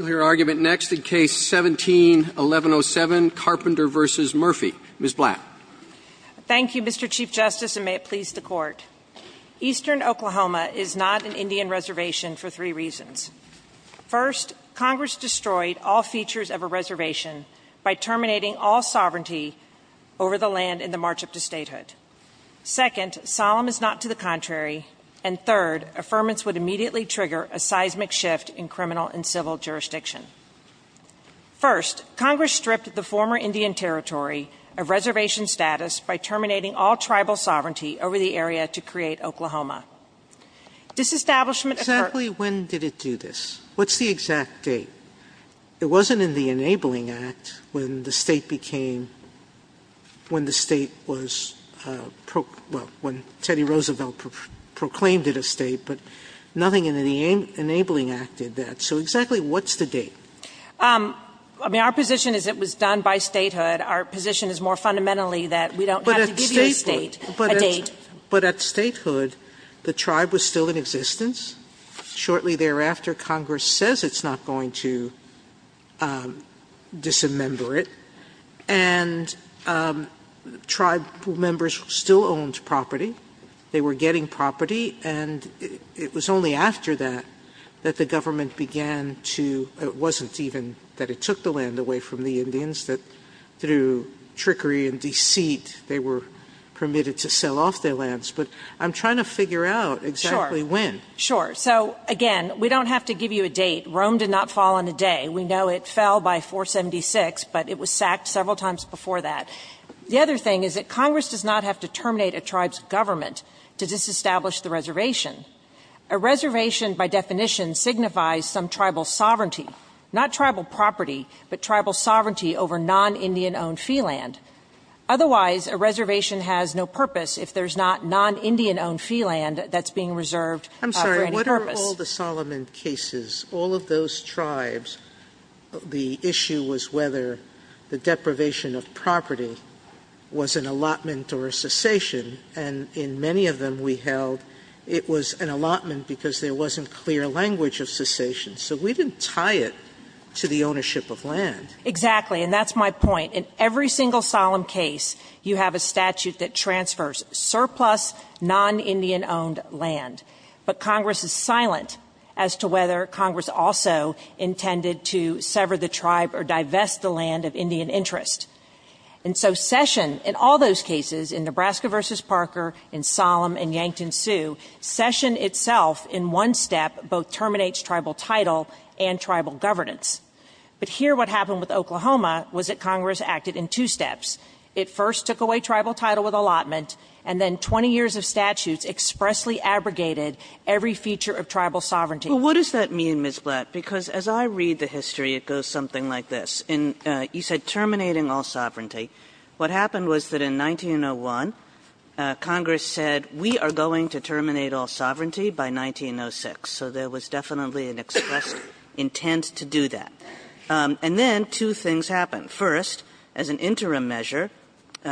Eastern Oklahoma is not an Indian reservation for three reasons. First, Congress destroyed all features of a reservation by terminating all sovereignty over the land in the march up to statehood. Second, solemn is not to the contrary. And third, affirmance would immediately trigger a seismic shift in criminal and civil justice. First, Congress stripped the former Indian Territory of reservation status by terminating all tribal sovereignty over the area to create Oklahoma. Disestablishment occurred Sotomayor Exactly when did it do this? What's the exact date? It wasn't in the Enabling Act when the state became, when the state was, well, when Teddy Roosevelt proclaimed it a state, but nothing in the Enabling Act did that. So exactly what did it do? Murphy I mean our position is it was done by statehood. Our position is more fundamentally that we don't have to give you a state, a date. Sotomayor But at statehood, the tribe was still in existence. Shortly thereafter, Congress says it's not going to dismember it. And tribe members still owned property. They were getting property. And it was only after that that the government began to dismember it. Sotomayor It wasn't even that it took the land away from the Indians, that through trickery and deceit they were permitted to sell off their lands. But I'm trying to figure out exactly when. Murphy Sure. Sure. So, again, we don't have to give you a date. Rome did not fall in a day. We know it fell by 476, but it was sacked several times before that. The other thing is that Congress does not have to terminate a tribe's government to disestablish the reservation. A reservation by definition signifies some tribal sovereignty. Not tribal property, but tribal sovereignty over non-Indian-owned fee land. Otherwise, a reservation has no purpose if there's not non-Indian-owned fee land that's being reserved for any purpose. Sotomayor I'm sorry. What are all the Solomon cases? All of those tribes, the issue was whether the deprivation of property was an allotment or a cessation. And in many of them we held it was an allotment because there wasn't clear language of cessation. So we didn't tie it to the ownership of land. Murphy Exactly. And that's my point. In every single Solomon case, you have a statute that transfers surplus non-Indian-owned land. But Congress is silent as to whether Congress also intended to sever the tribe or divest the land of Indian interest. And so cession in all those cases, in Nebraska v. Parker, in Solom and Yankton Sioux, cession itself in one step both terminates tribal title and tribal governance. But here what happened with Oklahoma was that Congress acted in two steps. It first took away tribal title with allotment, and then 20 years of statutes expressly abrogated every feature of tribal sovereignty. Kagan Well, what does that mean, Ms. Blatt? Because as I read the history, it goes something like this. In you said terminating all sovereignty, what happened was that in 1901, Congress said we are going to terminate all sovereignty by 1906. So there was definitely an expressed intent to do that. And then two things happened. First, as an interim measure,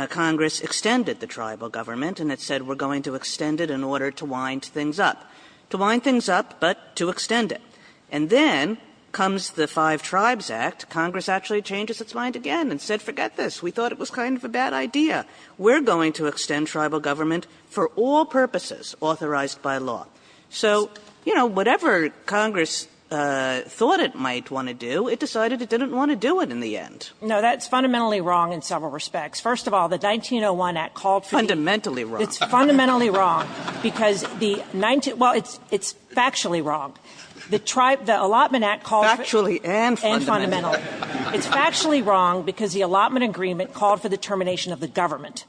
Congress extended the tribal government, and it said we're going to extend it in order to wind things up. To wind things up, but to extend it. And then comes the Five Tribes Act. Congress actually changes its mind again and said forget this. We thought it was kind of a bad idea. We're going to extend tribal government for all purposes authorized by law. So, you know, whatever Congress thought it might want to do, it decided it didn't want to do it in the end. Blatt No, that's fundamentally wrong in several respects. First of all, the 1901 Act called for you to do it. Kagan Fundamentally wrong. Blatt It's fundamentally wrong because the 19 — well, it's factually wrong. The allotment Act called for it. Kagan And fundamentally wrong. Blatt And fundamentally wrong. It's factually wrong because the allotment agreement called for the termination of the government.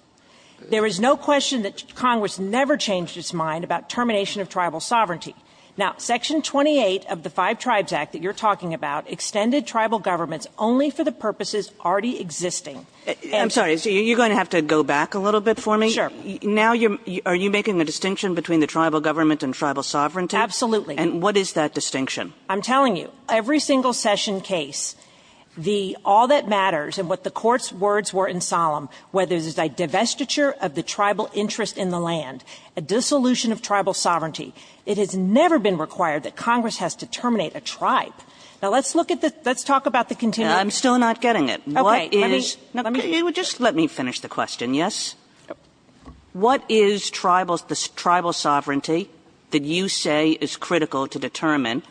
There is no question that Congress never changed its mind about termination of tribal sovereignty. Now, Section 28 of the Five Tribes Act that you're talking about extended tribal governments only for the purposes already existing. Kagan I'm sorry. So you're going to have to go back a little bit for me. Blatt Sure. Kagan Now you're — are you making a distinction between the tribal government and tribal sovereignty? Blatt Absolutely. Kagan And what is that distinction? Blatt I'm telling you, every single session case, the all that matters and what the Court's words were in Solemn, whether it was a divestiture of the tribal interest in the land, a dissolution of tribal sovereignty, it has never been required that Congress has to terminate a tribe. Now, let's look at the — let's talk about the continuum. Kagan Now, I'm still not getting it. What is — Blatt Okay. Let me — let me finish. Kagan Let me finish the question. Yes? What is tribal — the tribal sovereignty that you say is critical to determine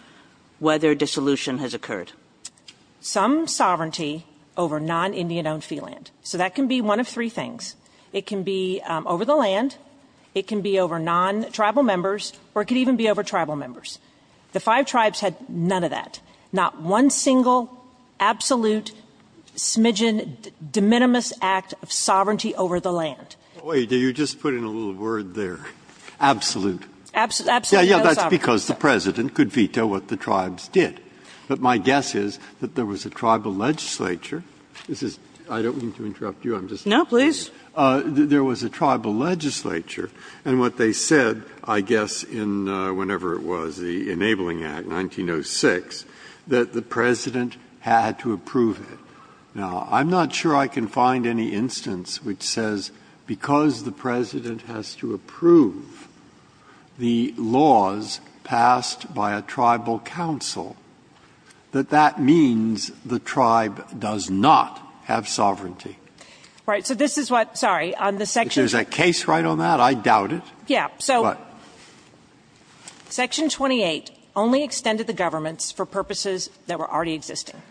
whether dissolution has occurred? Blatt Some sovereignty over non-Indian-owned fee land. So that can be one of three things. It can be over the land. It can be over non-tribal members. Or it could even be over tribal members. The five tribes had none of that. Not one single, absolute, smidgen, de minimis act of sovereignty over the land. Breyer Wait. Did you just put in a little word there? Absolute. Blatt Absolute. No sovereignty. Breyer Yeah, yeah. That's because the President could veto what the tribes did. But my guess is that there was a tribal legislature. This is — I don't mean to interrupt you. I'm just — Blatt No, please. Breyer There was a tribal legislature. And what they said, I guess, in whenever it was, the Enabling Act, 1906, that the President had to approve it. Now, I'm not sure I can find any instance which says because the President has to approve the laws passed by a tribal council, that that means the tribe does not have sovereignty. Blatt Right. So this is what — sorry. On the section — Breyer Isn't that — I doubt it. Blatt Yeah. So section 28 only extended the governments for purposes that were already existing.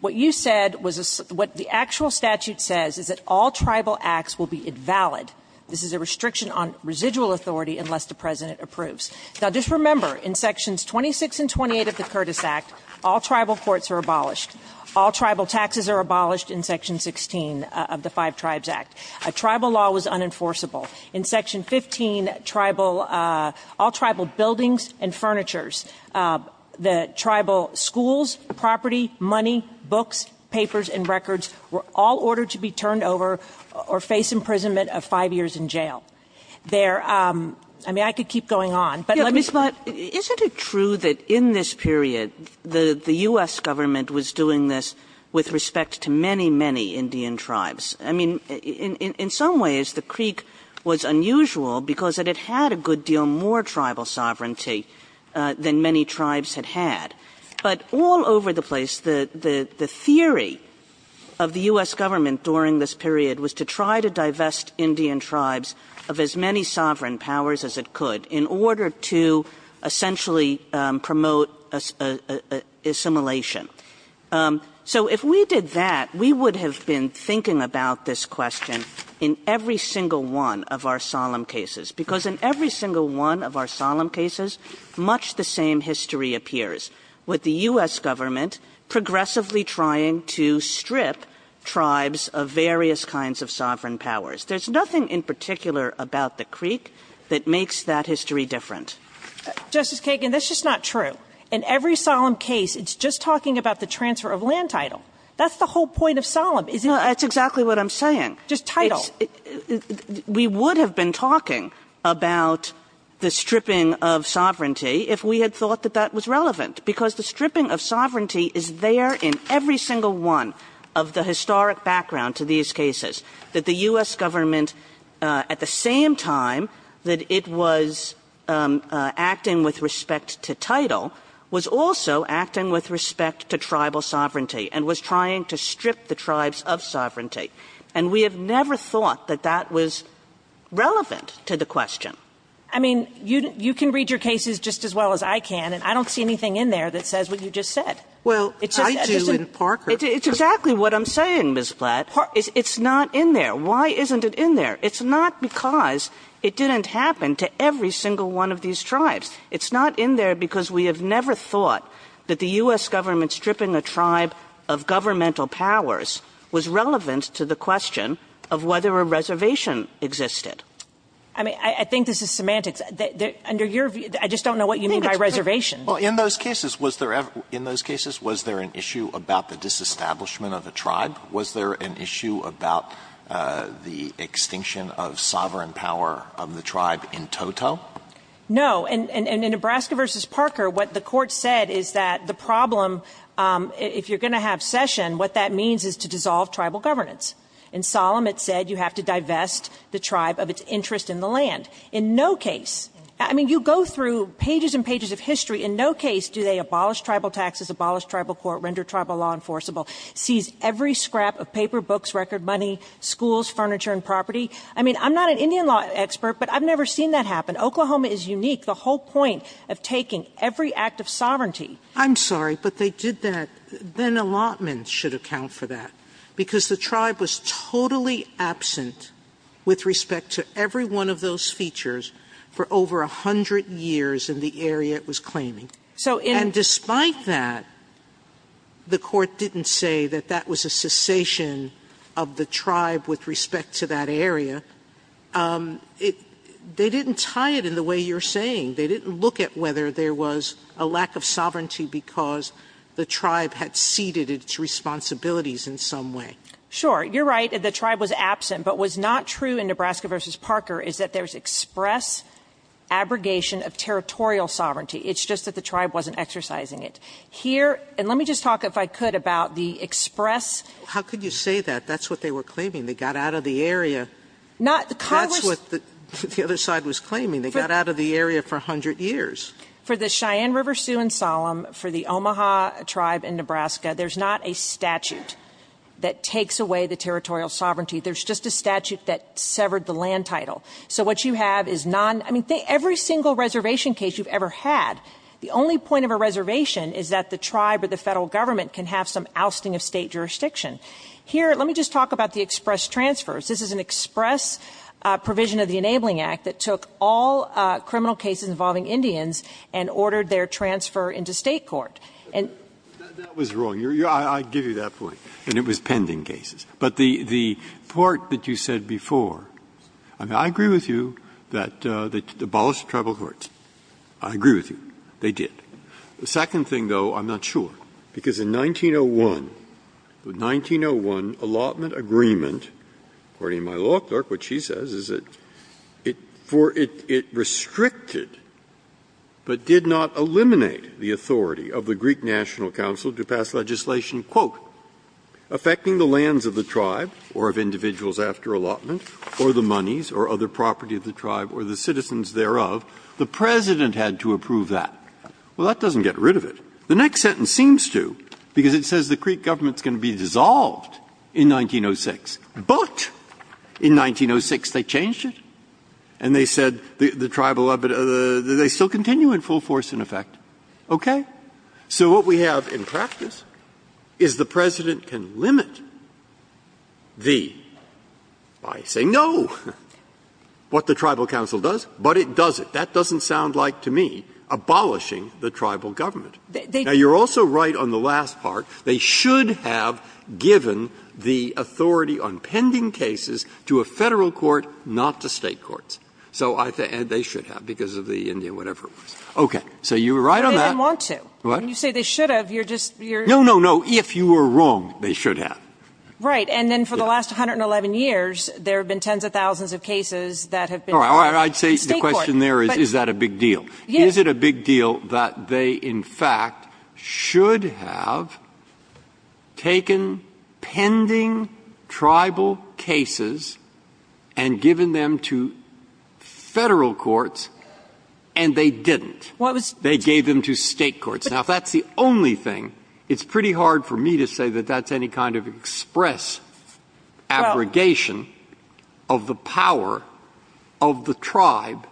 What you said was — what the actual statute says is that all tribal acts will be invalid. This is a restriction on residual authority unless the President approves. Now, just remember, in sections 26 and 28 of the Curtis Act, all tribal courts are abolished. All tribal taxes are abolished in section 16 of the Five Tribes Act. A tribal law was unenforceable. In section 15, tribal — all tribal buildings and furnitures, the tribal schools, property, money, books, papers, and records were all ordered to be turned over or face imprisonment of five years in jail. There — I mean, I could keep going on, but let me — Kagan Is it true that in this period, the U.S. government was doing this with respect to many, many Indian tribes? I mean, in some ways, the creek was unusual because it had a good deal more tribal sovereignty than many tribes had had. But all over the place, the theory of the U.S. government during this period was to try to divest Indian tribes of as many sovereign powers as it could in order to essentially promote assimilation. So if we did that, we would have been thinking about this question in every single one of our solemn cases, because in every single one of our solemn cases, much the same history appears, with the U.S. government progressively trying to strip tribes of various kinds of sovereign powers. There's nothing in particular about the creek that makes that history different. Justice Kagan, that's just not true. In every solemn case, it's just talking about the transfer of land title. That's the whole point of solemn, isn't it? No, that's exactly what I'm saying. Just title. It's — we would have been talking about the stripping of sovereignty if we had thought that that was relevant, because the stripping of sovereignty is there in every single one of the historic background to these cases, that the U.S. government, at the same time that it was acting with respect to title, was also acting with respect to tribal sovereignty and was trying to strip the tribes of sovereignty. And we have never thought that that was relevant to the question. I mean, you can read your cases just as well as I can, and I don't see anything in there that says what you just said. Well, I do in Parker. It's exactly what I'm saying, Ms. Platt. It's not in there. Why isn't it in there? It's not because it didn't happen to every single one of these tribes. It's not in there because we have never thought that the U.S. government stripping a tribe of governmental powers was relevant to the question of whether a reservation existed. I mean, I think this is semantics. Under your view — I just don't know what you mean by reservation. Well, in those cases, was there ever — in those cases, was there an issue about the disestablishment of a tribe? Was there an issue about the extinction of sovereign power of the tribe in toto? No. In Nebraska v. Parker, what the Court said is that the problem, if you're going to have cession, what that means is to dissolve tribal governance. In Solemn, it said you have to divest the tribe of its interest in the land. In no case — I mean, you go through pages and pages of history. In no case do they abolish tribal taxes, abolish tribal court, render tribal law enforceable, seize every scrap of paper, books, record money, schools, furniture and property. I mean, I'm not an Indian law expert, but I've never seen that happen. Oklahoma is unique. The whole point of taking every act of sovereignty. I'm sorry, but they did that. Then allotments should account for that, because the tribe was totally absent with respect to every one of those features for over 100 years in the area it was claiming. And despite that, the Court didn't say that that was a cessation of the tribe with respect to that area. They didn't tie it in the way you're saying. They didn't look at whether there was a lack of sovereignty because the tribe had ceded its responsibilities in some way. Sure. You're right. The tribe was absent. But what's not true in Nebraska v. Parker is that there's express abrogation of territorial sovereignty. It's just that the tribe wasn't exercising it. Here – and let me just talk, if I could, about the express – How could you say that? That's what they were claiming. They got out of the area. Not – That's what the other side was claiming. They got out of the area for 100 years. For the Cheyenne River Sioux and Solemn, for the Omaha tribe in Nebraska, there's not a statute that takes away the territorial sovereignty. There's just a statute that severed the land title. So what you have is non – I mean, every single reservation case you've ever had, the only point of a reservation is that the tribe or the Federal Government can have some ousting of State jurisdiction. Here – let me just talk about the express transfers. This is an express provision of the Enabling Act that took all criminal cases involving Indians and ordered their transfer into State court. And – That was wrong. I give you that point. And it was pending cases. But the – the part that you said before, I mean, I agree with you that they abolished tribal courts. I agree with you. They did. The second thing, though, I'm not sure, because in 1901, the 1901 allotment agreement, according to my law clerk, what she says is that it – for it restricted but did not eliminate the authority of the Greek National Council to pass legislation, quote, affecting the lands of the tribe or of individuals after allotment or the monies or other property of the tribe or the citizens thereof. The President had to approve that. Well, that doesn't get rid of it. The next sentence seems to, because it says the Greek government is going to be dissolved in 1906. But in 1906, they changed it. And they said the tribal – they still continue in full force, in effect. Okay? So what we have in practice is the President can limit the – I say no – what the tribal council does, but it does it. That doesn't sound like, to me, abolishing the tribal government. Now, you're also right on the last part. They should have given the authority on pending cases to a Federal court, not to State courts. So I think they should have because of the India whatever it was. Okay. So you're right on that. But they didn't want to. What? When you say they should have, you're just – you're – No, no, no. If you were wrong, they should have. Right. And then for the last 111 years, there have been tens of thousands of cases that have been – All right. All right. I'd say the question there is, is that a big deal? Yes. Is it a big deal that they, in fact, should have taken pending tribal cases and given them to Federal courts and they didn't? They gave them to State courts. Now, if that's the only thing, it's pretty hard for me to say that that's any kind of express abrogation of the power of the tribe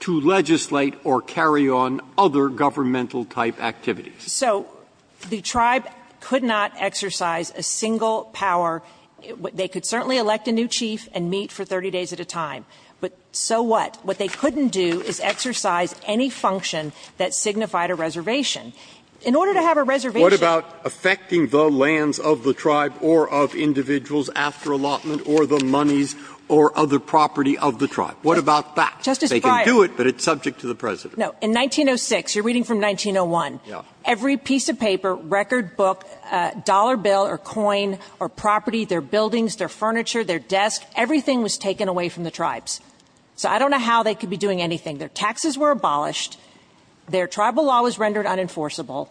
to legislate or carry on other governmental type activities. So the tribe could not exercise a single power. They could certainly elect a new chief and meet for 30 days at a time, but so what? What they couldn't do is exercise any function that signified a reservation. In order to have a reservation – What about affecting the lands of the tribe or of individuals after allotment or the monies or other property of the tribe? What about that? Justice Breyer – They can do it, but it's subject to the precedent. No. In 1906 – you're reading from 1901 – Yeah. Every piece of paper, record book, dollar bill or coin or property, their buildings, their furniture, their desk, everything was taken away from the tribes. So I don't know how they could be doing anything. Their taxes were abolished. Their tribal law was rendered unenforceable.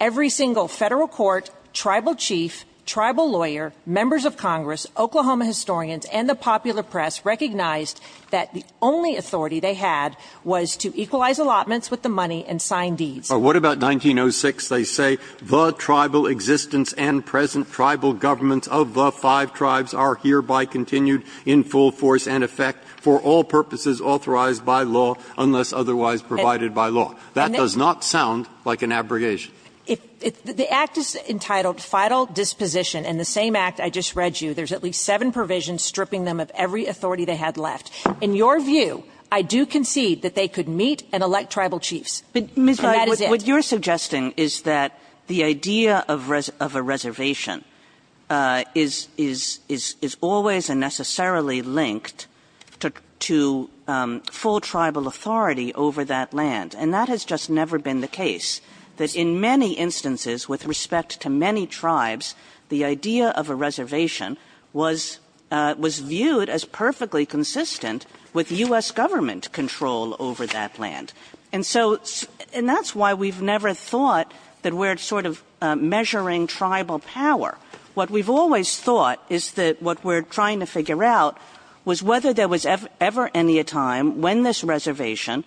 Every single federal court, tribal chief, tribal lawyer, members of Congress, Oklahoma historians and the popular press recognized that the only authority they had was to equalize allotments with the money and sign deeds. But what about 1906? They say, The tribal existence and present tribal governments of the five tribes are hereby continued in full force and effect for all purposes authorized by law unless otherwise provided by law. That does not sound like an abrogation. If – the Act is entitled Fidel Disposition, and the same Act I just read you, there's at least seven provisions stripping them of every authority they had left. In your view, I do concede that they could meet and elect tribal chiefs. And that is it. What you're suggesting is that the idea of a reservation is always and necessarily linked to full tribal authority over that land. And that has just never been the case. That in many instances with respect to many tribes, the idea of a reservation was viewed as perfectly consistent with U.S. government control over that land. And so – and that's why we've never thought that we're sort of measuring tribal power. What we've always thought is that what we're trying to figure out was whether there was ever any time when this reservation,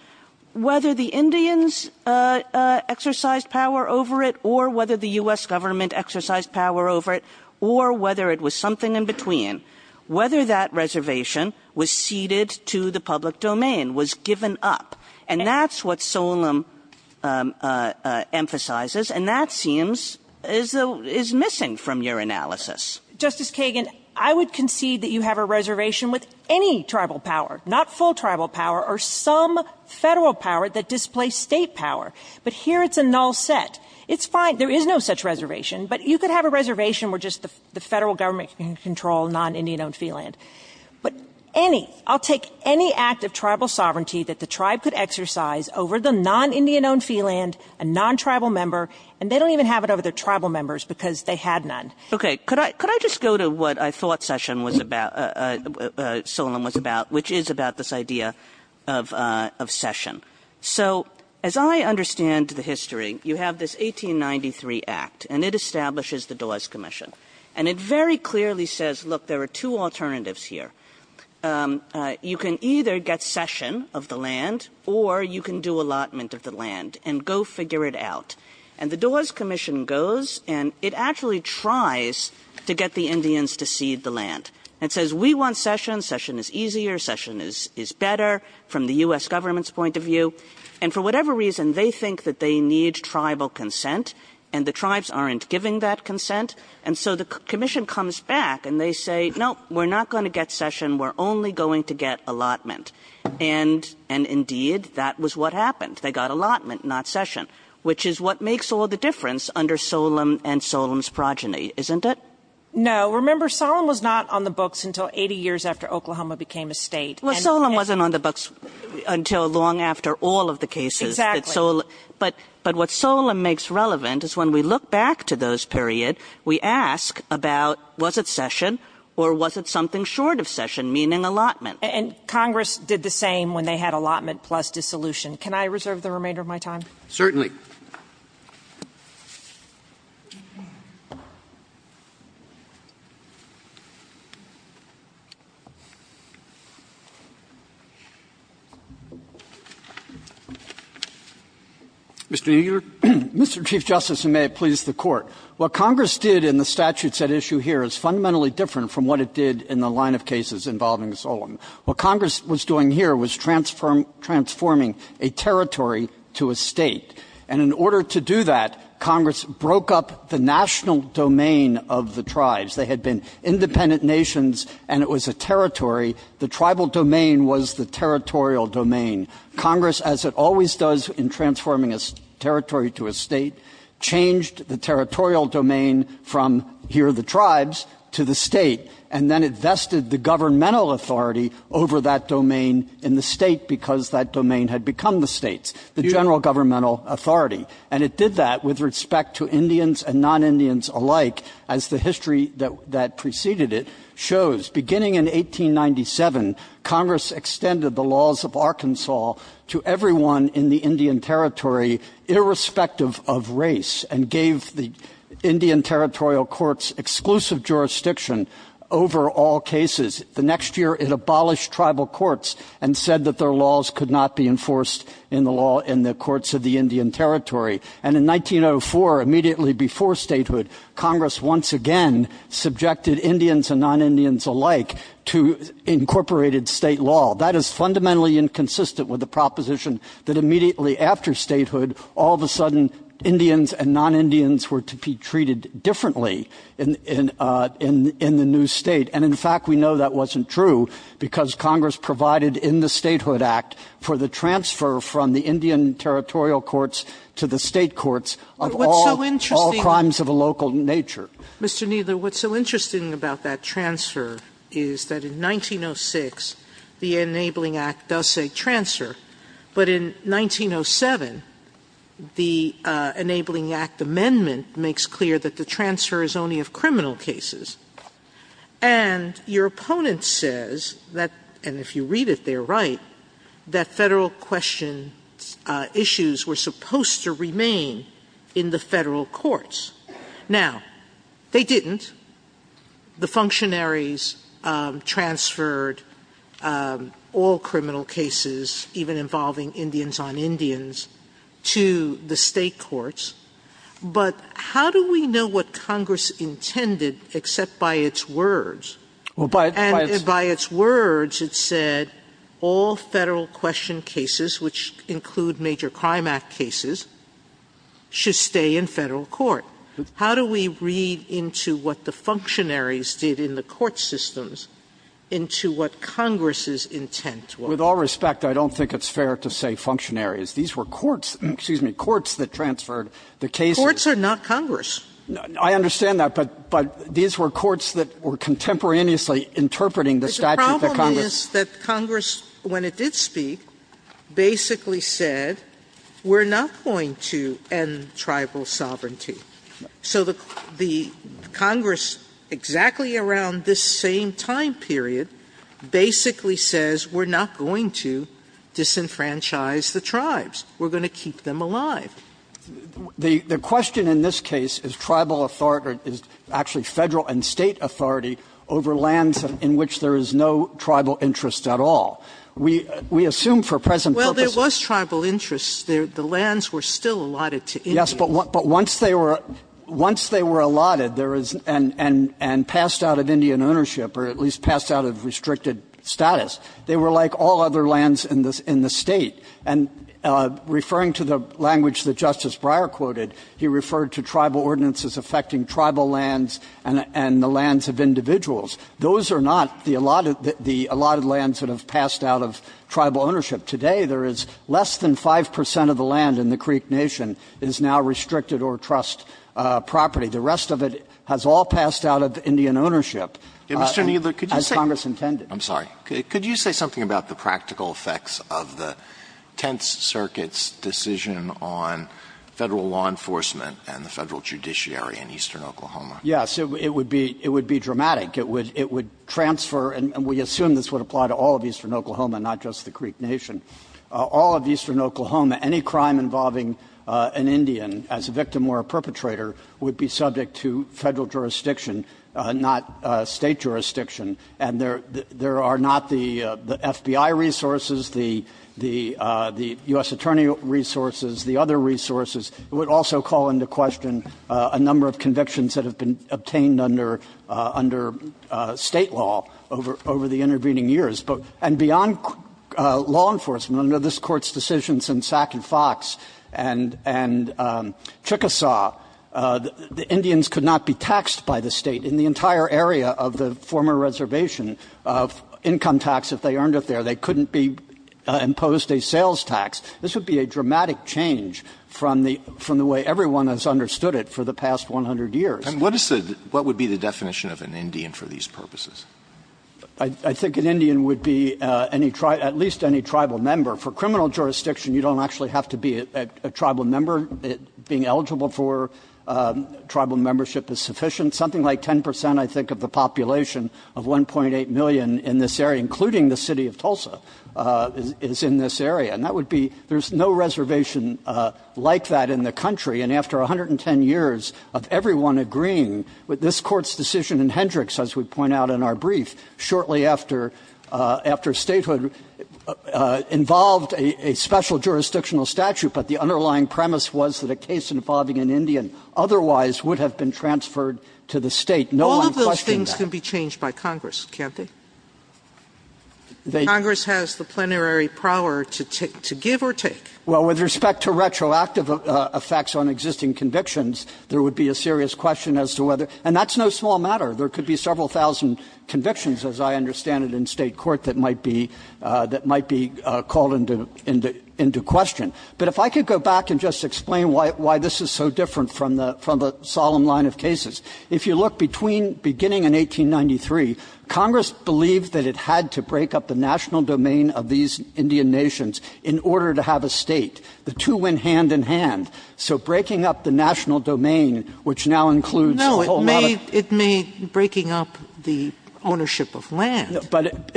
whether the Indians exercised power over it or whether the U.S. government exercised power over it or whether it was something in between, whether that reservation was ceded to the public domain, was given up. And that's what Solem emphasizes. And that seems is missing from your analysis. Justice Kagan, I would concede that you have a reservation with any tribal power, not full tribal power or some Federal power that displays State power. But here it's a null set. It's fine. There is no such reservation. But you could have a reservation where just the Federal government can control non-Indian-owned fee land. But any – I'll take any act of tribal sovereignty that the tribe could exercise over the non-Indian-owned fee land, a non-tribal member, and they don't even have it over their tribal members because they had none. Okay. Could I just go to what I thought Session was about – Solem was about, which is about this idea of Session. So as I understand the history, you have this 1893 act, and it establishes the Dawes Commission. And it very clearly says, look, there are two alternatives here. You can either get Session of the land or you can do allotment of the land and go figure it out. And the Dawes Commission goes and it actually tries to get the Indians to cede the land. It says, we want Session. Session is easier. Session is better from the U.S. government's point of view. And for whatever reason, they think that they need tribal consent, and the tribes aren't giving that consent. And so the commission comes back and they say, no, we're not going to get Session. We're only going to get allotment. And indeed, that was what happened. They got allotment, not Session, which is what makes all the difference under Solem and Solem's progeny, isn't it? No. Remember, Solem was not on the books until 80 years after Oklahoma became a state. Well, Solem wasn't on the books until long after all of the cases. Exactly. But what Solem makes relevant is when we look back to those period, we ask about was it Session or was it something short of Session, meaning allotment? And Congress did the same when they had allotment plus dissolution. Can I reserve the remainder of my time? Certainly. Mr. Kneedler. Mr. Chief Justice, and may it please the Court, what Congress did in the statutes at issue here is fundamentally different from what it did in the line of cases involving Solem. What Congress was doing here was transforming a territory to a state. And in order to do that, Congress broke up the national domain of the tribes. They had been independent nations and it was a territory. The tribal domain was the territorial domain. Congress, as it always does in transforming a territory to a state, changed the territorial domain from here are the tribes to the state. And then it vested the governmental authority over that domain in the state because that domain had become the state's, the general governmental authority. And it did that with respect to Indians and non-Indians alike, as the history that preceded it shows. Beginning in 1897, Congress extended the laws of Arkansas to everyone in the Indian Territory, irrespective of race, and gave the Indian Territorial Courts exclusive jurisdiction over all cases. The next year it abolished tribal courts and said that their laws could not be enforced in the law in the courts of the Indian Territory. And in 1904, immediately before statehood, Congress once again subjected Indians and non-Indians alike to incorporated state law. That is fundamentally inconsistent with the proposition that immediately after statehood, all of a sudden Indians and non-Indians were to be treated differently in the new state. And in fact, we know that wasn't true because Congress provided in the Statehood Act for the transfer from the Indian Territorial Courts to the state courts of all crimes of a local nature. Sotomayor, what's so interesting about that transfer is that in 1906, the Enabling Act does say transfer. But in 1907, the Enabling Act amendment makes clear that the transfer is only of criminal cases. And your opponent says that, and if you read it, they're right, that Federal question issues were supposed to remain in the Federal courts. Now, they didn't. The functionaries transferred all criminal cases, even involving Indians on Indians, to the state courts. But how do we know what Congress intended except by its words? And by its words, it said all Federal question cases, which include major crime act cases, should stay in Federal court. How do we read into what the functionaries did in the court systems into what Congress's intent was? With all respect, I don't think it's fair to say functionaries. These were courts, excuse me, courts that transferred the cases. Courts are not Congress. I understand that, but these were courts that were contemporaneously interpreting the statute that Congress. Sotomayor, Congress, when it did speak, basically said, we're not going to end tribal sovereignty. So the Congress, exactly around this same time period, basically says, we're not going to disenfranchise the tribes, we're going to keep them alive. The question in this case is Tribal authority, or actually Federal and State authority over lands in which there is no Tribal interest at all. We assume for present purposes. Sotomayor, Well, there was Tribal interest. The lands were still allotted to Indians. Kneedler, Yes, but once they were allotted and passed out of Indian ownership or at least passed out of restricted status, they were like all other lands in the State. Those are not the allotted lands that have passed out of Tribal ownership. Today, there is less than 5 percent of the land in the Creek Nation is now restricted or trust property. The rest of it has all passed out of Indian ownership, as Congress intended. Alito, I'm sorry. Could you say something about the practical effects of the Tenth Circuit's decision on Federal law enforcement and the Federal judiciary in eastern Oklahoma? Kneedler, Yes, it would be dramatic. It would transfer, and we assume this would apply to all of eastern Oklahoma, not just the Creek Nation. All of eastern Oklahoma, any crime involving an Indian as a victim or a perpetrator would be subject to Federal jurisdiction, not State jurisdiction. And there are not the FBI resources, the U.S. Attorney resources, the other resources. It would also call into question a number of convictions that have been obtained under State law over the intervening years. And beyond law enforcement, under this Court's decisions in Sac and Fox and Chickasaw, the Indians could not be taxed by the State in the entire area of the former reservation of income tax if they earned it there. They couldn't be imposed a sales tax. This would be a dramatic change from the way everyone has understood it for the past 100 years. Alito What would be the definition of an Indian for these purposes? Kneedler, I think an Indian would be at least any tribal member. For criminal jurisdiction, you don't actually have to be a tribal member. Being eligible for tribal membership is sufficient. Something like 10 percent, I think, of the population of 1.8 million in this area, including the City of Tulsa, is in this area. And that would be, there's no reservation like that in the country. And after 110 years of everyone agreeing with this Court's decision in Hendricks, as we point out in our brief, shortly after Statehood involved a special jurisdictional statute, but the underlying premise was that a case involving an Indian otherwise would have been transferred to the State. No one questioned that. Sotomayor All of those things can be changed by Congress, can't they? Congress has the plenary power to give or take. Kneedler Well, with respect to retroactive effects on existing convictions, there would be a serious question as to whether, and that's no small matter. There could be several thousand convictions, as I understand it, in State court that might be called into question. But if I could go back and just explain why this is so different from the solemn line of cases, if you look between beginning in 1893, Congress believed that it had to break up the national domain of these Indian nations in order to have a State. The two went hand in hand. So breaking up the national domain, which now includes a whole lot of No, it made breaking up the ownership of land, and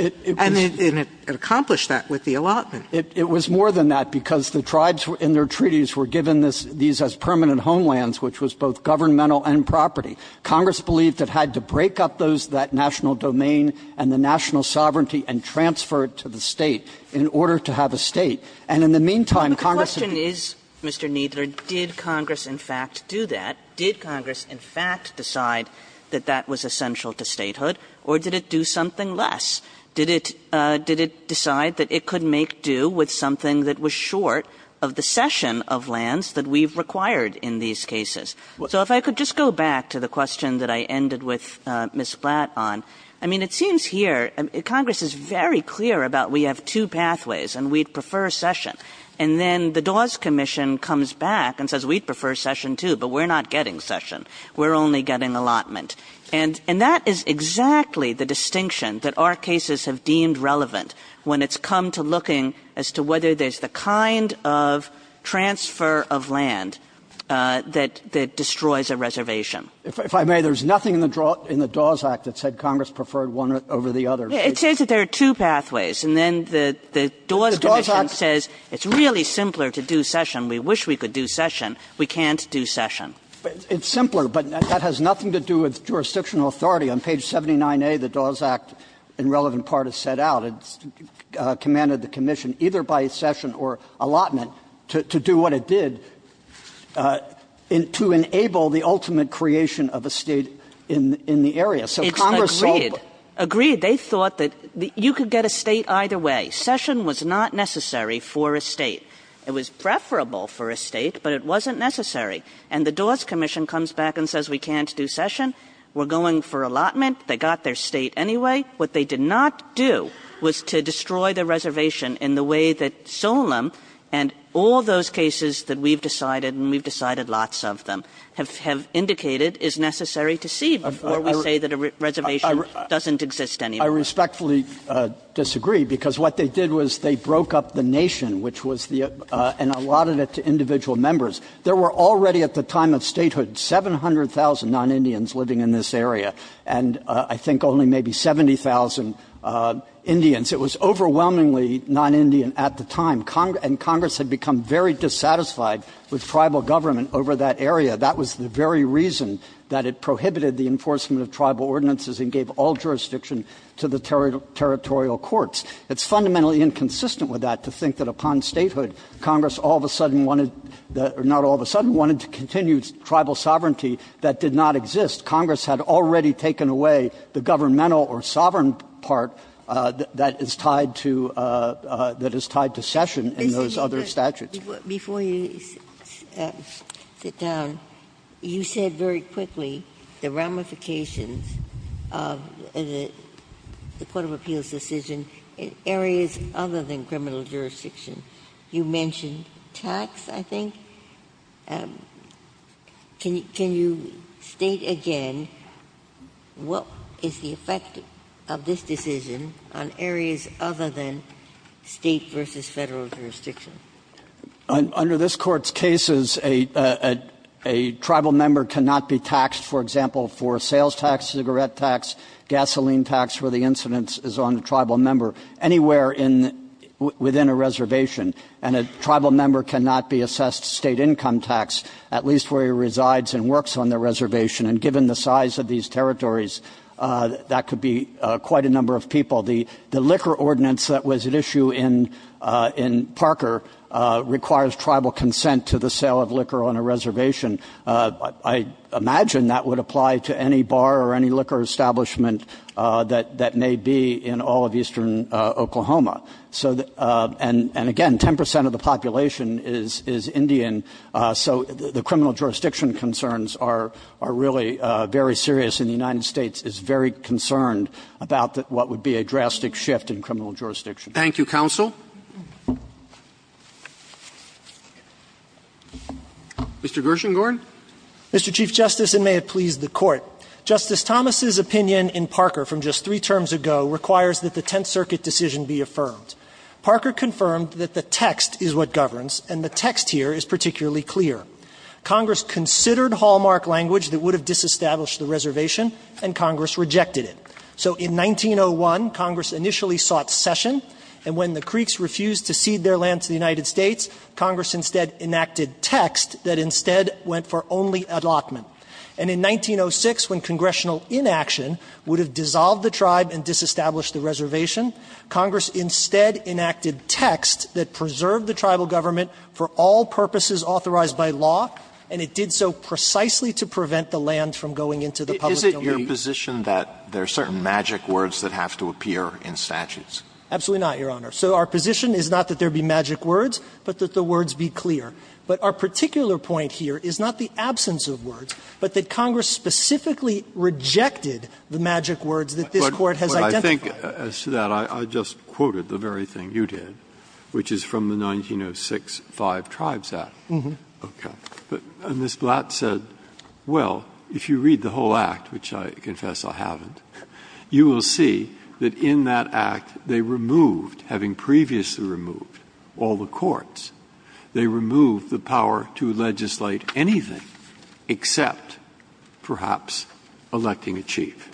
it accomplished that with the allotment. Kneedler It was more than that, because the tribes in their treaties were given these as permanent homelands, which was both governmental and property. Congress believed it had to break up those, that national domain and the national sovereignty, and transfer it to the State in order to have a State. And in the meantime, Congress had to do that. Kagan But the question is, Mr. Kneedler, did Congress, in fact, do that? Did Congress, in fact, decide that that was essential to statehood, or did it do something less? Did it decide that it could make do with something that was short of the cession of lands that we've required in these cases? So if I could just go back to the question that I ended with Ms. Blatt on, I mean, it seems here Congress is very clear about we have two pathways, and we'd prefer cession. And then the Dawes Commission comes back and says, we'd prefer cession, too, but we're not getting cession. We're only getting allotment. And that is exactly the distinction that our cases have deemed relevant when it's come to looking as to whether there's the kind of transfer of land that destroys Kneedler If I may, there's nothing in the Dawes Act that said Congress preferred one over the other. Kagan It says that there are two pathways, and then the Dawes Commission says it's really simpler to do cession. We wish we could do cession. We can't do cession. Kneedler It's simpler, but that has nothing to do with jurisdictional authority. On page 79A, the Dawes Act, in relevant part, is set out. It's commanded the commission, either by cession or allotment, to do what it did to enable the ultimate creation of a State in the area. So Congress saw the Kagan It's agreed. Agreed. They thought that you could get a State either way. Cession was not necessary for a State. It was preferable for a State, but it wasn't necessary. And the Dawes Commission comes back and says, we can't do cession. We're going for allotment. They got their State anyway. What they did not do was to destroy the reservation in the way that Solem and all those cases that we've decided, and we've decided lots of them, have indicated is necessary to see before we say that a reservation doesn't exist anymore. Kneedler I respectfully disagree, because what they did was they broke up the nation, which was the – and allotted it to individual members. There were already, at the time of statehood, 700,000 non-Indians living in this There were already 70,000 Indians. It was overwhelmingly non-Indian at the time, and Congress had become very dissatisfied with tribal government over that area. That was the very reason that it prohibited the enforcement of tribal ordinances and gave all jurisdiction to the territorial courts. It's fundamentally inconsistent with that to think that upon statehood, Congress all of a sudden wanted – or not all of a sudden – wanted to continue tribal sovereignty that did not exist. Congress had already taken away the governmental or sovereign part that is tied to – that is tied to session in those other statutes. Ginsburg Before you sit down, you said very quickly the ramifications of the court of appeals decision in areas other than criminal jurisdiction. You mentioned tax, I think. Can you state again what is the effect of this decision on areas other than state versus federal jurisdiction? Kneedler Under this Court's cases, a tribal member cannot be taxed, for example, for sales tax, cigarette tax, gasoline tax, where the incidence is on the tribal member, anywhere within a reservation. And a tribal member cannot be assessed state income tax, at least where he resides and works on the reservation. And given the size of these territories, that could be quite a number of people. The liquor ordinance that was at issue in Parker requires tribal consent to the sale of liquor on a reservation. I imagine that would apply to any bar or any liquor establishment that may be in all of eastern Oklahoma. And again, 10 percent of the population is Indian, so the criminal jurisdiction concerns are really very serious, and the United States is very concerned about what would be a drastic shift in criminal jurisdiction. Roberts Thank you, counsel. Mr. Gershengorn. Gershengorn Mr. Chief Justice, and may it please the Court. I'm going to start with the text that Parker confirmed. Parker confirmed that the text is what governs, and the text here is particularly clear. Congress considered hallmark language that would have disestablished the reservation and Congress rejected it. So in 1901, Congress initially sought session, and when the Creeks refused to cede their land to the United States, Congress instead enacted text that instead went for only allotment. And in 1906, when congressional inaction would have dissolved the tribe and disestablished the reservation, Congress instead enacted text that preserved the tribal government for all purposes authorized by law, and it did so precisely to prevent the land from going into the public domain. Alito Is it your position that there are certain magic words that have to appear in statutes? Gershengorn Absolutely not, Your Honor. So our position is not that there be magic words, but that the words be clear. But our particular point here is not the absence of words, but that Congress specifically rejected the magic words that this Court has identified. Breyer As to that, I just quoted the very thing you did, which is from the 1906 Five Tribes Act. And Ms. Blatt said, well, if you read the whole act, which I confess I haven't, you will see that in that act they removed, having previously removed all the courts, they removed the power to legislate anything except perhaps electing a chief.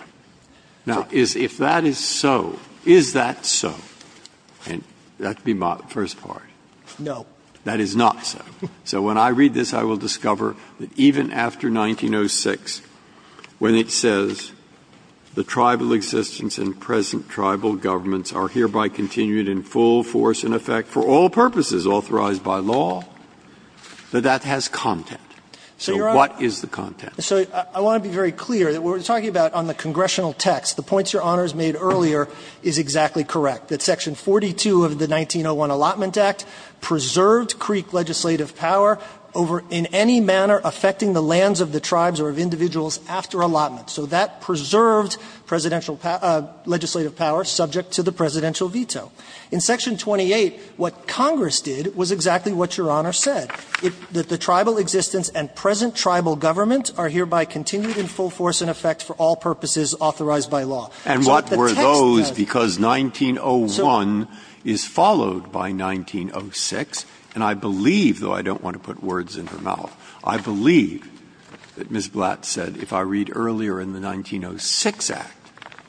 Now, if that is so, is that so? And that would be my first part. Gershengorn No. Breyer That is not so. So when I read this, I will discover that even after 1906, when it says the tribal existence and present tribal governments are hereby continued in full force and effect for all purposes authorized by law, that that has content. So what is the content? So I want to be very clear that what we're talking about on the congressional text, the points Your Honor has made earlier is exactly correct, that Section 42 of the 1901 Allotment Act preserved Creek legislative power over in any manner affecting the lands of the tribes or of individuals after allotment. So that preserved presidential legislative power subject to the presidential veto. In Section 28, what Congress did was exactly what Your Honor said, that the tribal existence and present tribal government are hereby continued in full force and effect for all purposes authorized by law. Breyer And what were those? Because 1901 is followed by 1906. And I believe, though I don't want to put words in her mouth, I believe that Ms. Blatt said if I read earlier in the 1906 Act,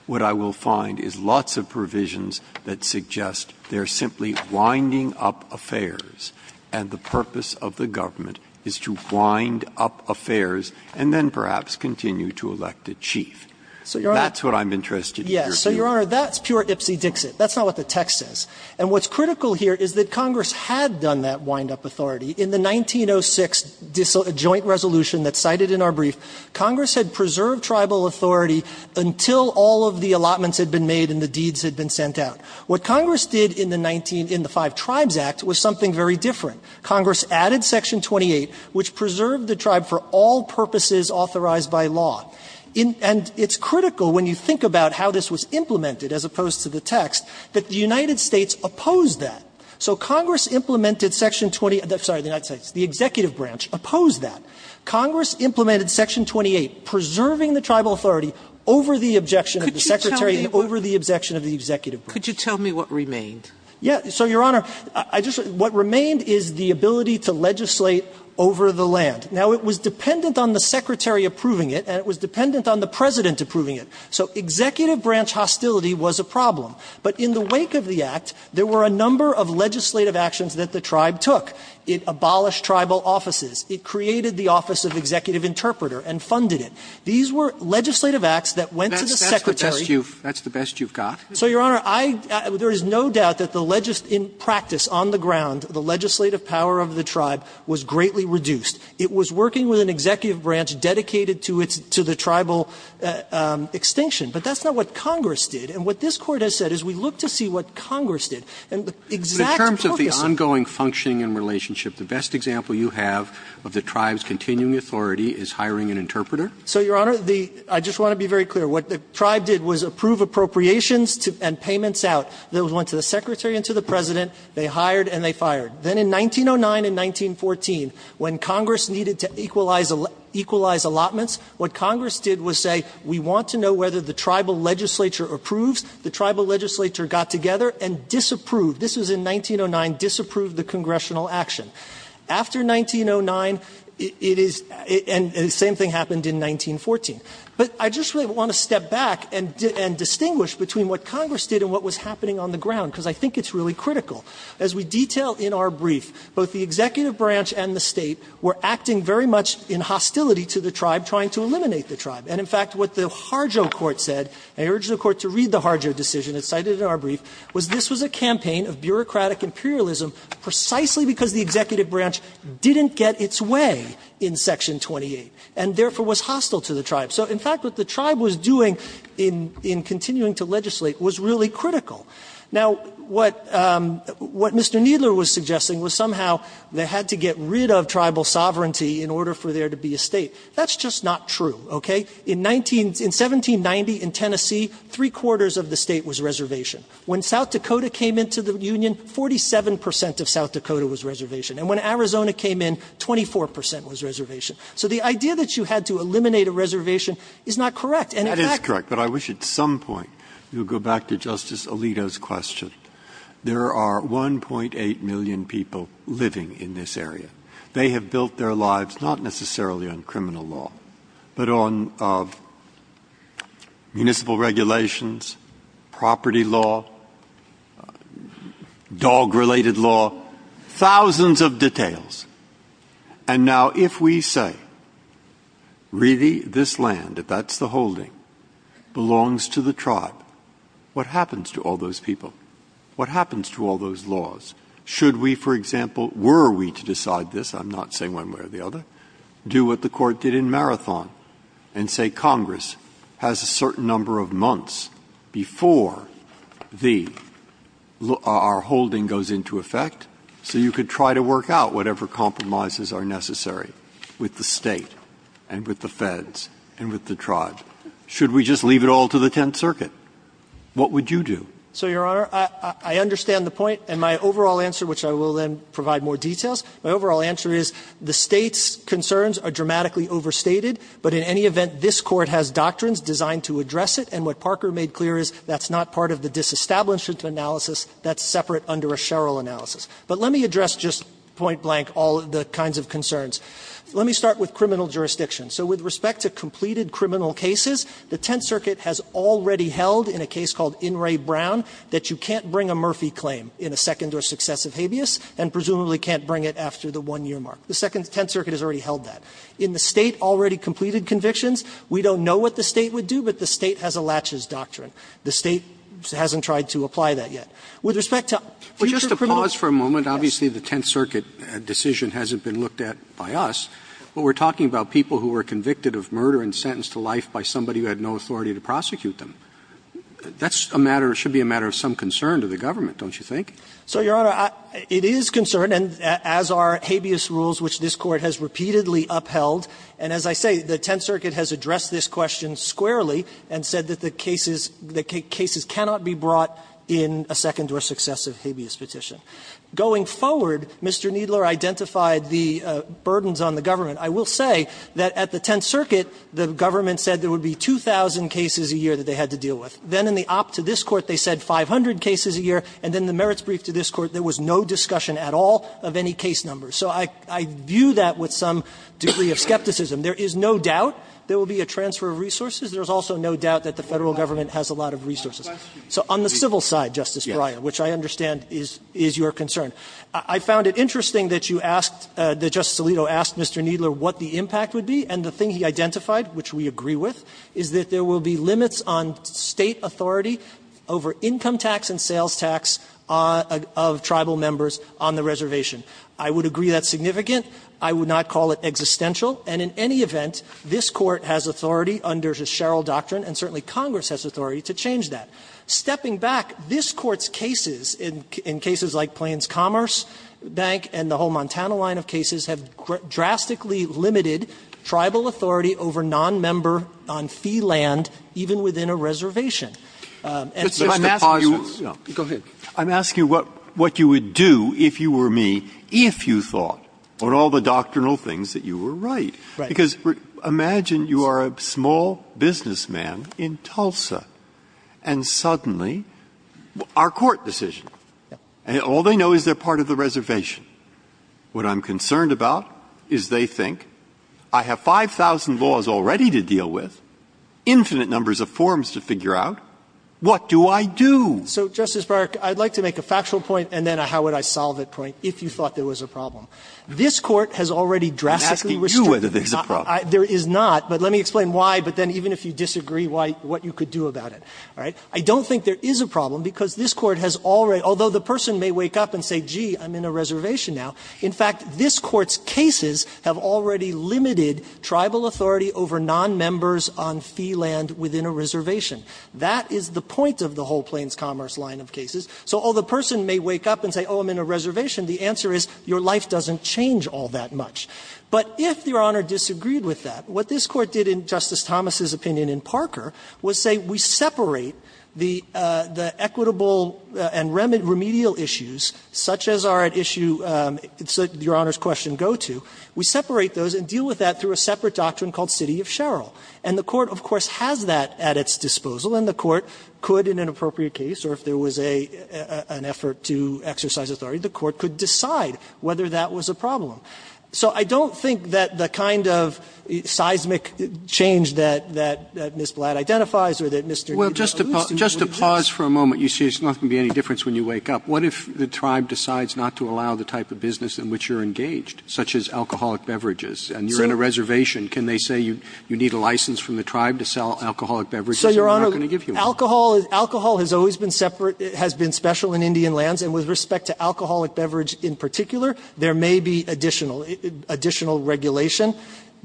what I will find is lots of provisions that suggest they are simply winding up affairs, and the purpose of the government is to wind up affairs and then perhaps continue to elect a chief. That's what I'm interested in. Gershengorn Yes. So, Your Honor, that's pure ipsy-dixit. That's not what the text says. And what's critical here is that Congress had done that wind-up authority. In the 1906 joint resolution that's cited in our brief, Congress had preserved tribal authority until all of the allotments had been made and the deeds had been sent out. What Congress did in the 19 — in the Five Tribes Act was something very different. Congress added Section 28, which preserved the tribe for all purposes authorized by law. And it's critical, when you think about how this was implemented as opposed to the text, that the United States opposed that. So Congress implemented Section 20 — sorry, the United States, the executive branch opposed that. Congress implemented Section 28, preserving the tribal authority over the objection of the secretary and over the objection of the executive branch. Sotomayor Could you tell me what remained? Gershengorn Yeah. So, Your Honor, I just — what remained is the ability to legislate over the land. Now, it was dependent on the secretary approving it, and it was dependent on the president approving it. So executive branch hostility was a problem. But in the wake of the Act, there were a number of legislative actions that the tribe took. It abolished tribal offices. It created the Office of Executive Interpreter and funded it. These were legislative acts that went to the secretary. Roberts That's the best you've got? Gershengorn So, Your Honor, I — there is no doubt that the legislative — in practice, on the ground, the legislative power of the tribe was greatly reduced. It was working with an executive branch dedicated to its — to the tribal extinction. But that's not what Congress did. And what this Court has said is we look to see what Congress did. And the exact purpose of— The best example you have of the tribe's continuing authority is hiring an interpreter? Gershengorn So, Your Honor, the — I just want to be very clear. What the tribe did was approve appropriations and payments out. Those went to the secretary and to the president. They hired and they fired. Then in 1909 and 1914, when Congress needed to equalize allotments, what Congress did was say, we want to know whether the tribal legislature approves. The tribal legislature got together and disapproved. This was in 1909, disapproved the congressional action. After 1909, it is — and the same thing happened in 1914. But I just really want to step back and distinguish between what Congress did and what was happening on the ground, because I think it's really critical. As we detail in our brief, both the executive branch and the State were acting very much in hostility to the tribe, trying to eliminate the tribe. And, in fact, what the Harjo Court said — I urge the Court to read the Harjo decision that's cited in our brief — was this was a campaign of bureaucratic imperialism precisely because the executive branch didn't get its way in Section 28, and therefore was hostile to the tribe. So, in fact, what the tribe was doing in continuing to legislate was really critical. Now, what Mr. Kneedler was suggesting was somehow they had to get rid of tribal sovereignty in order for there to be a State. That's just not true, okay? In 1790 in Tennessee, three-quarters of the State was reservation. When South Dakota came into the Union, 47 percent of South Dakota was reservation. And when Arizona came in, 24 percent was reservation. So the idea that you had to eliminate a reservation is not correct. And, in fact — Breyer. That is correct. But I wish at some point we would go back to Justice Alito's question. There are 1.8 million people living in this area. They have built their lives not necessarily on criminal law, but on municipal regulations, property law, dog-related law, thousands of details. And now, if we say, really, this land, if that's the holding, belongs to the tribe, what happens to all those people? What happens to all those laws? Should we, for example — were we to decide this? I'm not saying one way or the other. Do what the Court did in Marathon and say Congress has a certain number of months before the — our holding goes into effect, so you could try to work out whatever compromises are necessary with the State and with the feds and with the tribes. Should we just leave it all to the Tenth Circuit? What would you do? So, Your Honor, I understand the point. And my overall answer, which I will then provide more details, my overall answer is the State's concerns are dramatically overstated. But in any event, this Court has doctrines designed to address it, and what Parker made clear is that's not part of the disestablishment analysis. That's separate under a Sherrill analysis. But let me address just point blank all of the kinds of concerns. Let me start with criminal jurisdiction. So with respect to completed criminal cases, the Tenth Circuit has already held in a case called In re Brown that you can't bring a Murphy claim in a second or successive Second Tenth Circuit has already held that. In the State already completed convictions, we don't know what the State would do, but the State has a latches doctrine. The State hasn't tried to apply that yet. With respect to future criminal laws. Roberts, obviously the Tenth Circuit decision hasn't been looked at by us, but we are talking about people who were convicted of murder and sentenced to life by somebody who had no authority to prosecute them. That's a matter — should be a matter of some concern to the government, don't you think? So, Your Honor, it is concern, as are habeas rules, which this Court has repeatedly upheld. And as I say, the Tenth Circuit has addressed this question squarely and said that the cases — that cases cannot be brought in a second or successive habeas petition. Going forward, Mr. Kneedler identified the burdens on the government. I will say that at the Tenth Circuit, the government said there would be 2,000 cases a year that they had to deal with. Then in the op to this Court, they said 500 cases a year. And then in the merits brief to this Court, there was no discussion at all of any case numbers. So I view that with some degree of skepticism. There is no doubt there will be a transfer of resources. There is also no doubt that the Federal Government has a lot of resources. So on the civil side, Justice Breyer, which I understand is your concern. I found it interesting that you asked — that Justice Alito asked Mr. Kneedler what the impact would be, and the thing he identified, which we agree with, is that there will be limits on State authority over income tax and sales tax of tribal members on the reservation. I would agree that's significant. I would not call it existential. And in any event, this Court has authority under the Sherrill Doctrine, and certainly Congress has authority to change that. Stepping back, this Court's cases, in cases like Plains Commerce Bank and the whole reservation. And so I'm asking you what you would do if you were me if you thought on all the doctrinal things that you were right. Because imagine you are a small businessman in Tulsa, and suddenly our court decision. And all they know is they're part of the reservation. What I'm concerned about is they think, I have 5,000 laws already to deal with. Infinite numbers of forms to figure out. What do I do? So, Justice Breyer, I'd like to make a factual point, and then a how would I solve it point, if you thought there was a problem. This Court has already drastically restricted. I'm asking you whether there's a problem. There is not. But let me explain why, but then even if you disagree, what you could do about it. All right? I don't think there is a problem, because this Court has already — although the person may wake up and say, gee, I'm in a reservation now. In fact, this Court's cases have already limited tribal authority over nonmembers on fee land within a reservation. That is the point of the whole Plains Commerce line of cases. So although the person may wake up and say, oh, I'm in a reservation, the answer is, your life doesn't change all that much. But if Your Honor disagreed with that, what this Court did in Justice Thomas's opinion in Parker was say, we separate the equitable and remedial issues, such as those that are at issue, Your Honor's question, go to, we separate those and deal with that through a separate doctrine called City of Sherrill. And the Court, of course, has that at its disposal, and the Court could, in an appropriate case, or if there was an effort to exercise authority, the Court could decide whether that was a problem. So I don't think that the kind of seismic change that Ms. Blatt identifies or that Mr. DiGiorgio-Busti would exist. Roberts. Just to pause for a moment. You say there's not going to be any difference when you wake up. What if the tribe decides not to allow the type of business in which you're engaged, such as alcoholic beverages, and you're in a reservation? Can they say you need a license from the tribe to sell alcoholic beverages and they're not going to give you one? Alcohol has always been separate, has been special in Indian lands, and with respect to alcoholic beverage in particular, there may be additional regulation.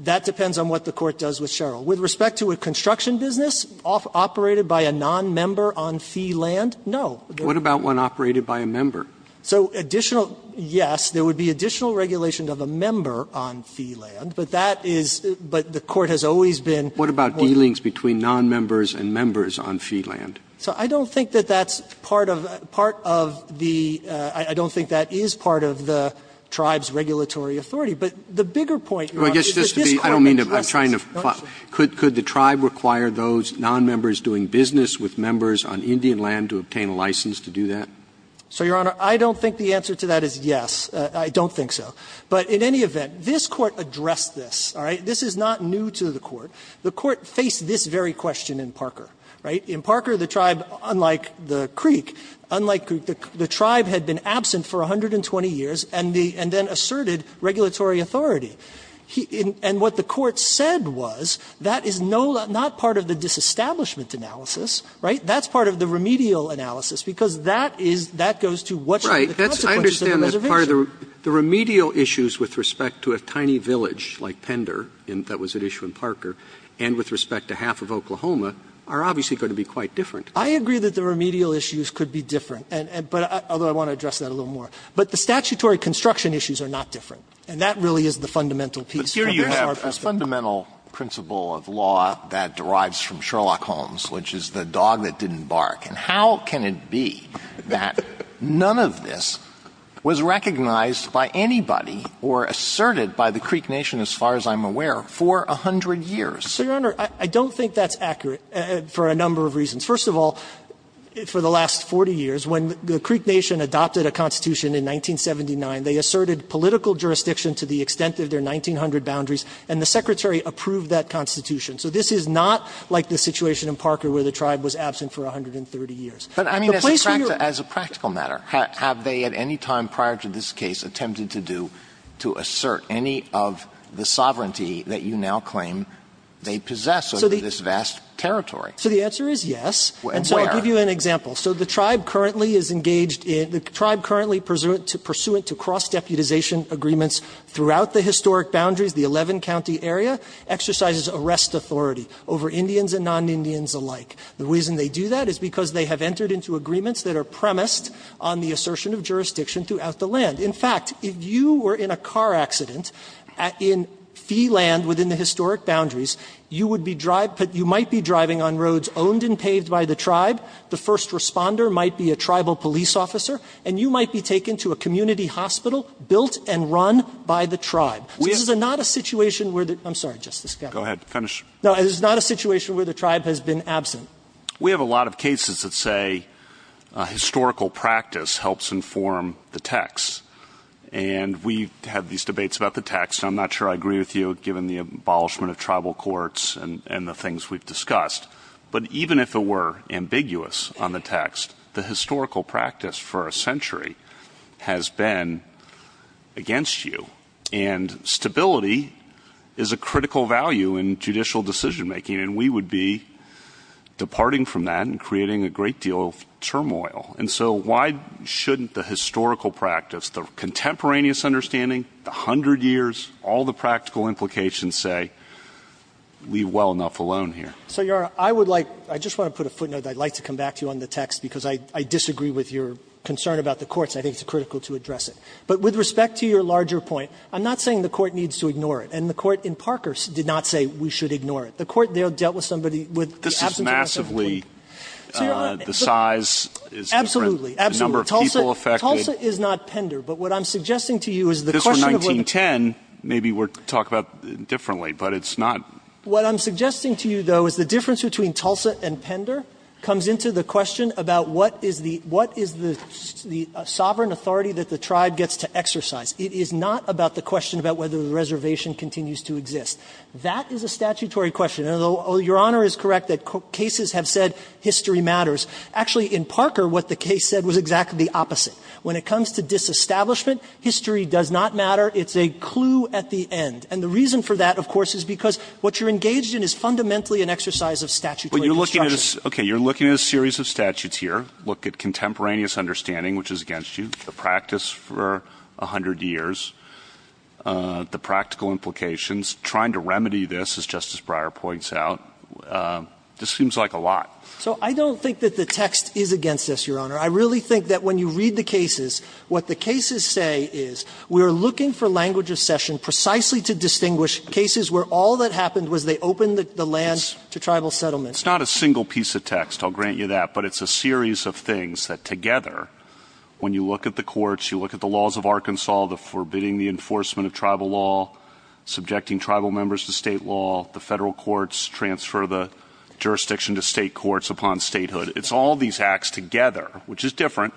That depends on what the Court does with Sherrill. With respect to a construction business operated by a nonmember on fee land, no. What about one operated by a member? So additional, yes, there would be additional regulation of a member on fee land. But that is, but the Court has always been. What about dealings between nonmembers and members on fee land? So I don't think that that's part of, part of the, I don't think that is part of the tribe's regulatory authority. But the bigger point, Your Honor, is that this Court interests. Could the tribe require those nonmembers doing business with members on Indian land to have a license to do that? So, Your Honor, I don't think the answer to that is yes. I don't think so. But in any event, this Court addressed this, all right? This is not new to the Court. The Court faced this very question in Parker, right? In Parker, the tribe, unlike the Creek, unlike Creek, the tribe had been absent for 120 years and the, and then asserted regulatory authority. And what the Court said was that is no, not part of the disestablishment analysis, right? That's part of the remedial analysis, because that is, that goes to what should Roberts. Right. I understand that part of the, the remedial issues with respect to a tiny village like Pender that was at issue in Parker and with respect to half of Oklahoma are obviously going to be quite different. I agree that the remedial issues could be different. And, but, although I want to address that a little more. But the statutory construction issues are not different. And that really is the fundamental piece. But here you have a fundamental principle of law that derives from Sherlock Holmes, which is the dog that didn't bark. And how can it be that none of this was recognized by anybody or asserted by the Creek Nation, as far as I'm aware, for a hundred years? So, Your Honor, I don't think that's accurate for a number of reasons. First of all, for the last 40 years, when the Creek Nation adopted a constitution in 1979, they asserted political jurisdiction to the extent of their 1900 boundaries and the Secretary approved that constitution. So this is not like the situation in Parker where the tribe was absent for 130 years. The place where you're at. Alito, as a practical matter, have they at any time prior to this case attempted to do, to assert any of the sovereignty that you now claim they possess over this vast territory? So the answer is yes. And so I'll give you an example. So the tribe currently is engaged in, the tribe currently pursuant to cross-deputization agreements throughout the historic boundaries, the 11-county area, exercises arrest authority over Indians and non-Indians alike. The reason they do that is because they have entered into agreements that are premised on the assertion of jurisdiction throughout the land. In fact, if you were in a car accident in fee land within the historic boundaries, you would be driving, you might be driving on roads owned and paved by the tribe, the first responder might be a tribal police officer, and you might be taken to a community hospital built and run by the tribe. Go ahead, finish. No, it is not a situation where the tribe has been absent. We have a lot of cases that say historical practice helps inform the text. And we have these debates about the text. I'm not sure I agree with you, given the abolishment of tribal courts and the things we've discussed. But even if it were ambiguous on the text, the historical practice for a century has been against you. And stability is a critical value in judicial decision-making. And we would be departing from that and creating a great deal of turmoil. And so why shouldn't the historical practice, the contemporaneous understanding, the hundred years, all the practical implications say, leave well enough alone here? So, Your Honor, I would like, I just want to put a footnote that I'd like to come back to you on the text, because I disagree with your concern about the courts. I think it's critical to address it. But with respect to your larger point, I'm not saying the Court needs to ignore it. And the Court in Parker did not say we should ignore it. The Court there dealt with somebody with the absence of a second point. This is massively, the size is different, the number of people affected. Absolutely. Absolutely. Tulsa is not Pender. But what I'm suggesting to you is the question of whether This was 1910. Maybe we're talking about it differently, but it's not. What I'm suggesting to you, though, is the difference between Tulsa and Pender comes into the question about what is the sovereign authority that the tribe gets to exercise. It is not about the question about whether the reservation continues to exist. That is a statutory question. Your Honor is correct that cases have said history matters. Actually, in Parker, what the case said was exactly the opposite. When it comes to disestablishment, history does not matter. It's a clue at the end. And the reason for that, of course, is because what you're engaged in is fundamentally an exercise of statutory construction. But you're looking at a series of statutes here. Look at contemporaneous understanding, which is against you. The practice for a hundred years. The practical implications. Trying to remedy this, as Justice Breyer points out. This seems like a lot. So I don't think that the text is against us, Your Honor. I really think that when you read the cases, what the cases say is we're looking for language of session precisely to distinguish cases where all that happened was they opened the land to tribal settlement. It's not a single piece of text. I'll grant you that. But it's a series of things that together, when you look at the courts, you look at the laws of Arkansas, the forbidding the enforcement of tribal law, subjecting tribal members to state law, the Federal courts transfer the jurisdiction to state courts upon statehood. It's all these acts together, which is different,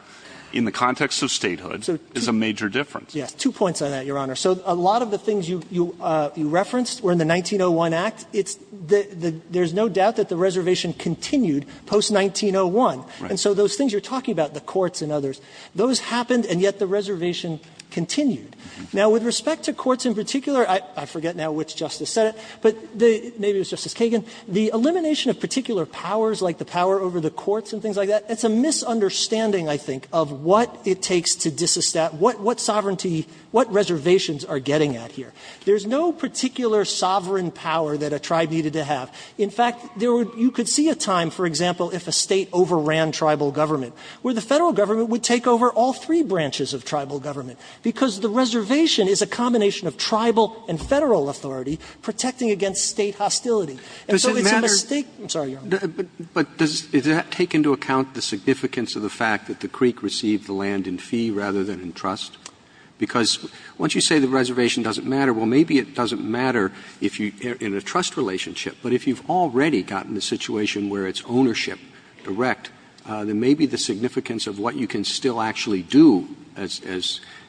in the context of statehood, is a major difference. Yes. Two points on that, Your Honor. So a lot of the things you referenced were in the 1901 Act. There's no doubt that the reservation continued post-1901. And so those things you're talking about, the courts and others, those happened and yet the reservation continued. Now, with respect to courts in particular, I forget now which Justice said it, but maybe it was Justice Kagan, the elimination of particular powers like the power over the courts and things like that, it's a misunderstanding, I think, of what it takes to disestablish, what sovereignty, what reservations are getting at here. There's no particular sovereign power that a tribe needed to have. In fact, there would be, you could see a time, for example, if a State overran tribal government, where the Federal government would take over all three branches of tribal government, because the reservation is a combination of tribal and Federal authority protecting against State hostility. And so it's a mistake. I'm sorry, Your Honor. But does that take into account the significance of the fact that the Creek received the land in fee rather than in trust? Because once you say the reservation doesn't matter, well, maybe it doesn't matter if you're in a trust relationship. But if you've already gotten the situation where it's ownership direct, then maybe the significance of what you can still actually do,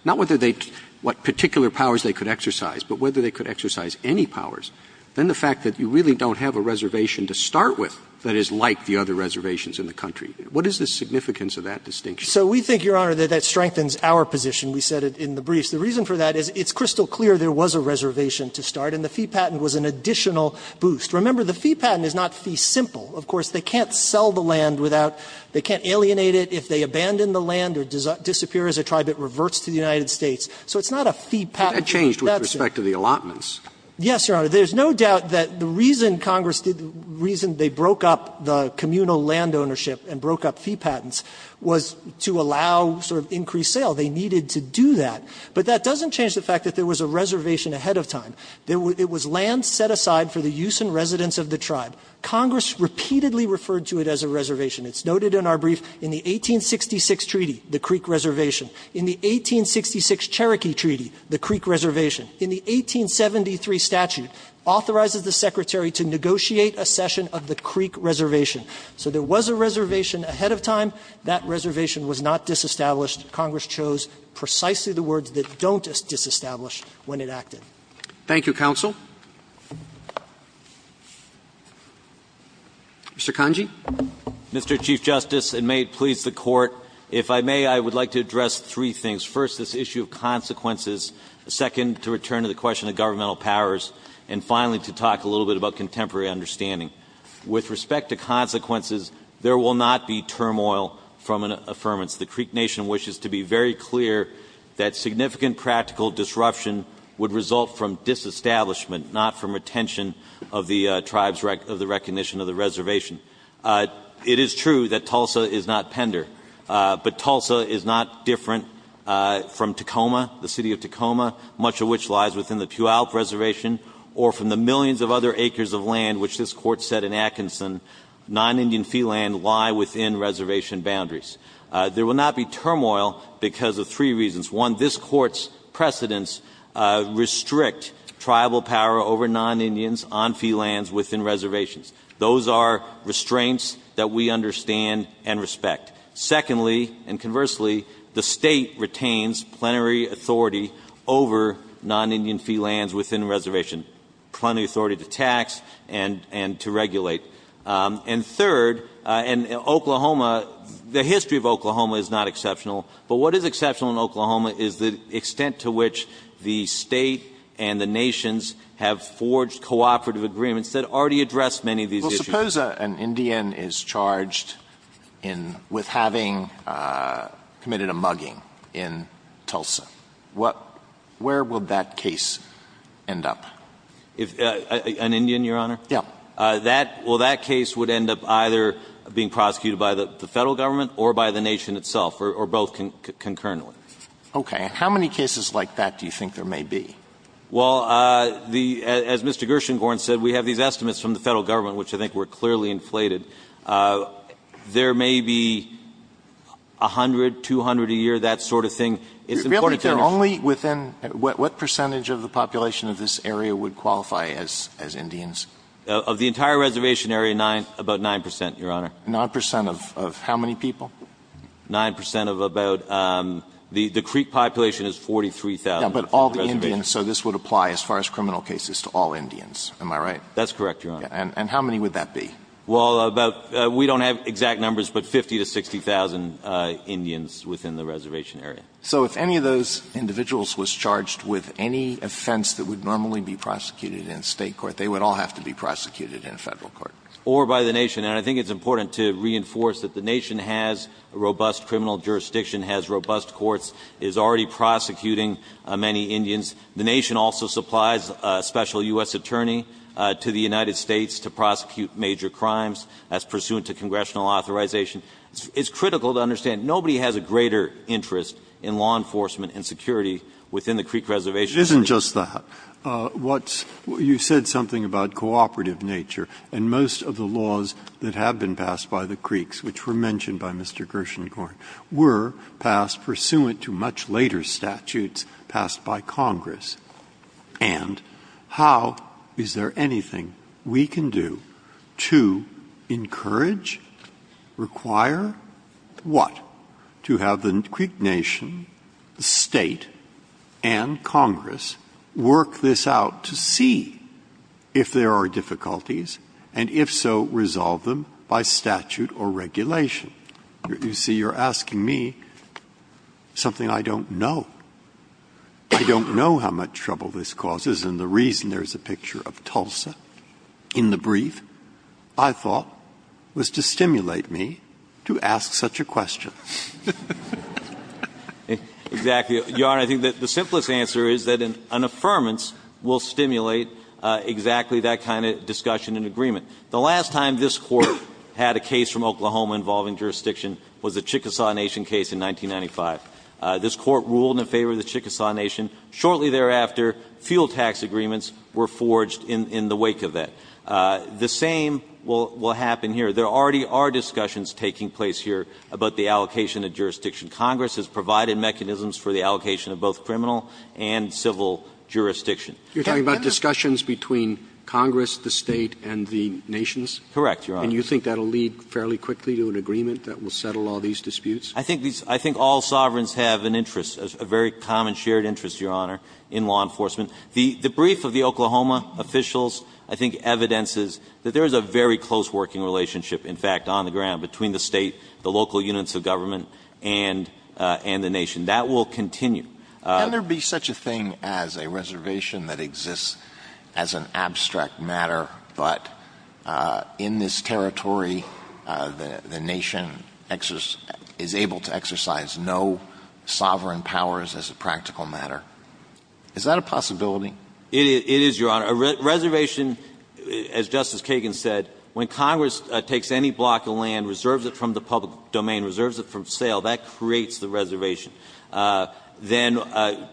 not what particular powers they could exercise, but whether they could exercise any powers, then the fact that you really don't have a reservation to start with that is like the other reservations in the country, what is the significance of that distinction? So we think, Your Honor, that that strengthens our position. We said it in the briefs. The reason for that is it's crystal clear there was a reservation to start, and the fee patent was an additional boost. Remember, the fee patent is not fee simple. Of course, they can't sell the land without, they can't alienate it. If they abandon the land or disappear as a tribe, it reverts to the United States. So it's not a fee patent. That's it. But that changed with respect to the allotments. Yes, Your Honor. There's no doubt that the reason Congress did, the reason they broke up the communal land ownership and broke up fee patents was to allow sort of increased sale. They needed to do that. But that doesn't change the fact that there was a reservation ahead of time. It was land set aside for the use and residence of the tribe. Congress repeatedly referred to it as a reservation. It's noted in our brief. In the 1866 treaty, the Creek Reservation. In the 1866 Cherokee Treaty, the Creek Reservation. So there was a reservation ahead of time. That reservation was not disestablished. Congress chose precisely the words that don't disestablish when it acted. Roberts. Thank you, counsel. Mr. Kanji. Mr. Chief Justice, and may it please the Court, if I may, I would like to address three things. First, this issue of consequences. Second, to return to the question of governmental powers. And finally, to talk a little bit about contemporary understanding. With respect to consequences, there will not be turmoil from an affirmance. The Creek Nation wishes to be very clear that significant practical disruption would result from disestablishment, not from retention of the tribe's recognition of the reservation. It is true that Tulsa is not Pender. But Tulsa is not different from Tacoma, the city of Tacoma, much of which lies within the Puyallup Reservation, or from the millions of other acres of land which this Court set in Atkinson. Non-Indian fee land lie within reservation boundaries. There will not be turmoil because of three reasons. One, this Court's precedents restrict tribal power over non-Indians on fee lands within reservations. Those are restraints that we understand and respect. Secondly, and conversely, the State retains plenary authority over non-Indian fee lands within reservation. Plenary authority to tax and to regulate. And third, in Oklahoma, the history of Oklahoma is not exceptional. But what is exceptional in Oklahoma is the extent to which the State and the nations have forged cooperative agreements that already address many of these issues. Alitoson Well, suppose an Indian is charged with having committed a mugging in Tulsa. Where would that case end up? An Indian, Your Honor? Roberts Yes. Alitoson Well, that case would end up either being prosecuted by the Federal Government or by the nation itself, or both concurrently. Roberts Okay. How many cases like that do you think there may be? Alitoson Well, as Mr. Gershengorn said, we have these estimates from the Federal Government, which I think were clearly inflated. There may be 100, 200 a year, that sort of thing. It's important to understand. What percentage of the population of this area would qualify as Indians? Alitoson Of the entire reservation area, about 9 percent, Your Honor. Alitoson 9 percent of how many people? Alitoson 9 percent of about the creek population is 43,000. Alitoson Yeah, but all the Indians. So this would apply as far as criminal cases to all Indians. Am I right? Alitoson That's correct, Your Honor. Alitoson And how many would that be? Alitoson Well, we don't have exact numbers, but 50,000 to 60,000 Indians within the reservation area. Alitoson So if any of those individuals was charged with any offense that would normally be prosecuted in a state court, they would all have to be prosecuted in a Federal court? Alitoson Or by the nation. And I think it's important to reinforce that the nation has robust criminal jurisdiction, has robust courts, is already prosecuting many Indians. The nation also supplies a special U.S. attorney to the United States to prosecute major crimes as pursuant to congressional authorization. It's critical to understand nobody has a greater interest in law enforcement and security within the creek reservation than the Indians. Breyer It isn't just that. You said something about cooperative nature. And most of the laws that have been passed by the creeks, which were mentioned by Mr. Gershengorn, were passed pursuant to much later statutes passed by Congress. And how is there anything we can do to encourage, require, what? To have the creek nation, the State, and Congress work this out to see if there are difficulties, and if so, resolve them by statute or regulation. You see, you're asking me something I don't know. I don't know how much trouble this causes, and the reason there's a picture of Tulsa in the brief, I thought, was to stimulate me to ask such a question. Breyer Exactly. Your Honor, I think that the simplest answer is that an affirmance will stimulate exactly that kind of discussion and agreement. The last time this Court had a case from Oklahoma involving jurisdiction was the Chickasaw Nation case in 1995. This Court ruled in favor of the Chickasaw Nation. Shortly thereafter, fuel tax agreements were forged in the wake of that. The same will happen here. There already are discussions taking place here about the allocation of jurisdiction. Congress has provided mechanisms for the allocation of both criminal and civil jurisdiction. Roberts You're talking about discussions between Congress, the State, and the nations? Gershengorn Correct, Your Honor. Roberts And you think that will lead fairly quickly to an agreement that will settle all these disputes? Gershengorn I think all sovereigns have an interest, a very common shared interest, Your Honor, in law enforcement. The brief of the Oklahoma officials, I think, evidences that there is a very close working relationship, in fact, on the ground between the State, the local units of government, and the nation. That will continue. Alito Can there be such a thing as a reservation that exists as an abstract matter, but in this territory the nation is able to exercise no sovereign powers as a practical matter? Is that a possibility? Gershengorn It is, Your Honor. A reservation, as Justice Kagan said, when Congress takes any block of land, reserves it from the public domain, reserves it for sale, that creates the reservation. Then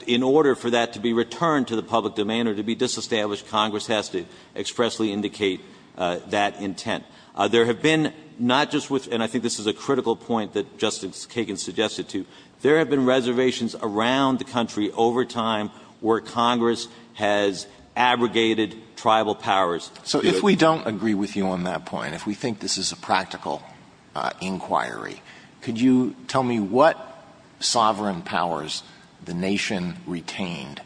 in order for that to be returned to the public domain or to be disestablished, Congress has to expressly indicate that intent. There have been not just with, and I think this is a critical point that Justice Kagan suggested to, there have been reservations around the country over time where Congress has abrogated tribal powers. Alito Can So if we don't agree with you on that point, if we think this is a practical inquiry, could you tell me what sovereign powers the nation retained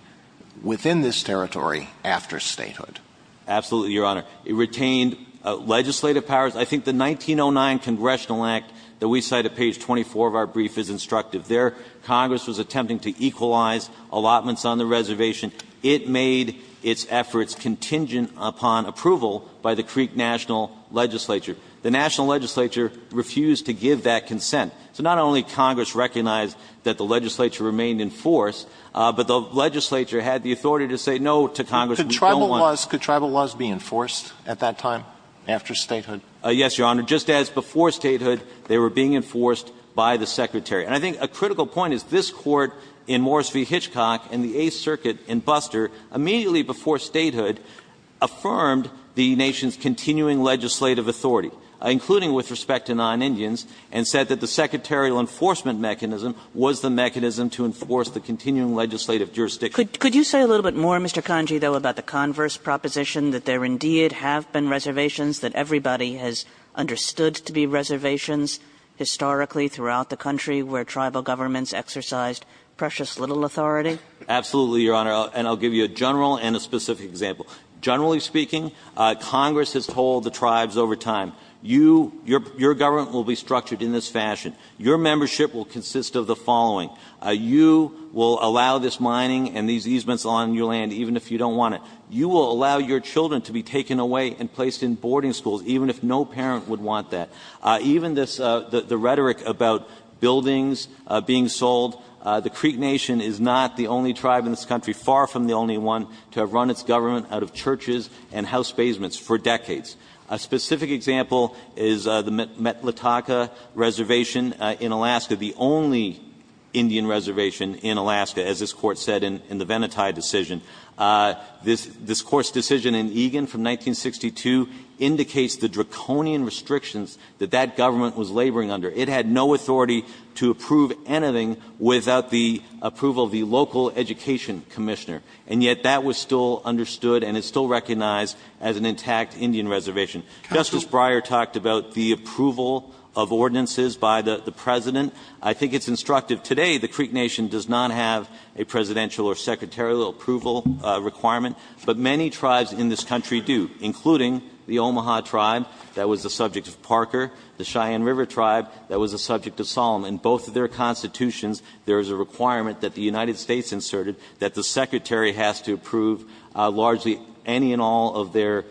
within this territory after statehood? Gershengorn Absolutely, Your Honor. It retained legislative powers. I think the 1909 Congressional Act that we cite at page 24 of our brief is instructive. There Congress was attempting to equalize allotments on the reservation. It made its efforts contingent upon approval by the Creek National Legislature. The National Legislature refused to give that consent. So not only did Congress recognize that the legislature remained in force, but the Congress did not. Alito Can Could tribal laws be enforced at that time after statehood? Gershengorn Yes, Your Honor. Just as before statehood, they were being enforced by the Secretary. And I think a critical point is this Court in Morris v. Hitchcock and the Eighth Circuit in Buster immediately before statehood affirmed the nation's continuing legislative authority, including with respect to non-Indians, and said that the secretarial enforcement mechanism was the mechanism to enforce the continuing legislative jurisdiction. Kagan Could you say a little bit more, Mr. Kanji, though, about the converse proposition that there indeed have been reservations, that everybody has understood to be reservations historically throughout the country where tribal governments exercised precious little authority? Gershengorn Absolutely, Your Honor. And I'll give you a general and a specific example. Generally speaking, Congress has told the tribes over time, your government will be structured in this fashion. Your membership will consist of the following. You will allow this mining and these easements on your land even if you don't want it. You will allow your children to be taken away and placed in boarding schools even if no parent would want that. Even the rhetoric about buildings being sold, the Creek Nation is not the only tribe in this country, far from the only one, to have run its government out of churches and house basements for decades. A specific example is the Metlataka Reservation in Alaska, the only Indian reservation in Alaska, as this Court said in the Venati decision. This Court's decision in Egan from 1962 indicates the draconian restrictions that that government was laboring under. It had no authority to approve anything without the approval of the local education commissioner, and yet that was still understood and is still recognized as an intact Indian reservation. Justice Breyer talked about the approval of ordinances by the President. I think it's instructive. Today, the Creek Nation does not have a presidential or secretarial approval requirement, but many tribes in this country do, including the Omaha tribe that was the subject of Parker, the Cheyenne River tribe that was the subject of Solomon. Both of their constitutions, there is a requirement that the United States inserted that the Secretary has to approve largely any and all of their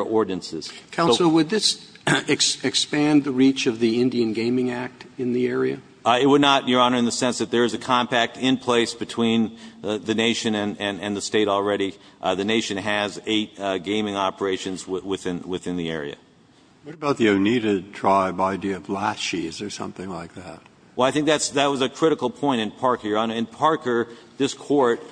ordinances. So the question is, is there a need to approve any and all of their ordinances? Roberts. Counsel, would this expand the reach of the Indian Gaming Act in the area? It would not, Your Honor, in the sense that there is a compact in place between the Nation and the State already. The Nation has eight gaming operations within the area. What about the Oneida tribe idea of lachi? Is there something like that? Well, I think that was a critical point in Parker, Your Honor. In Parker, this Court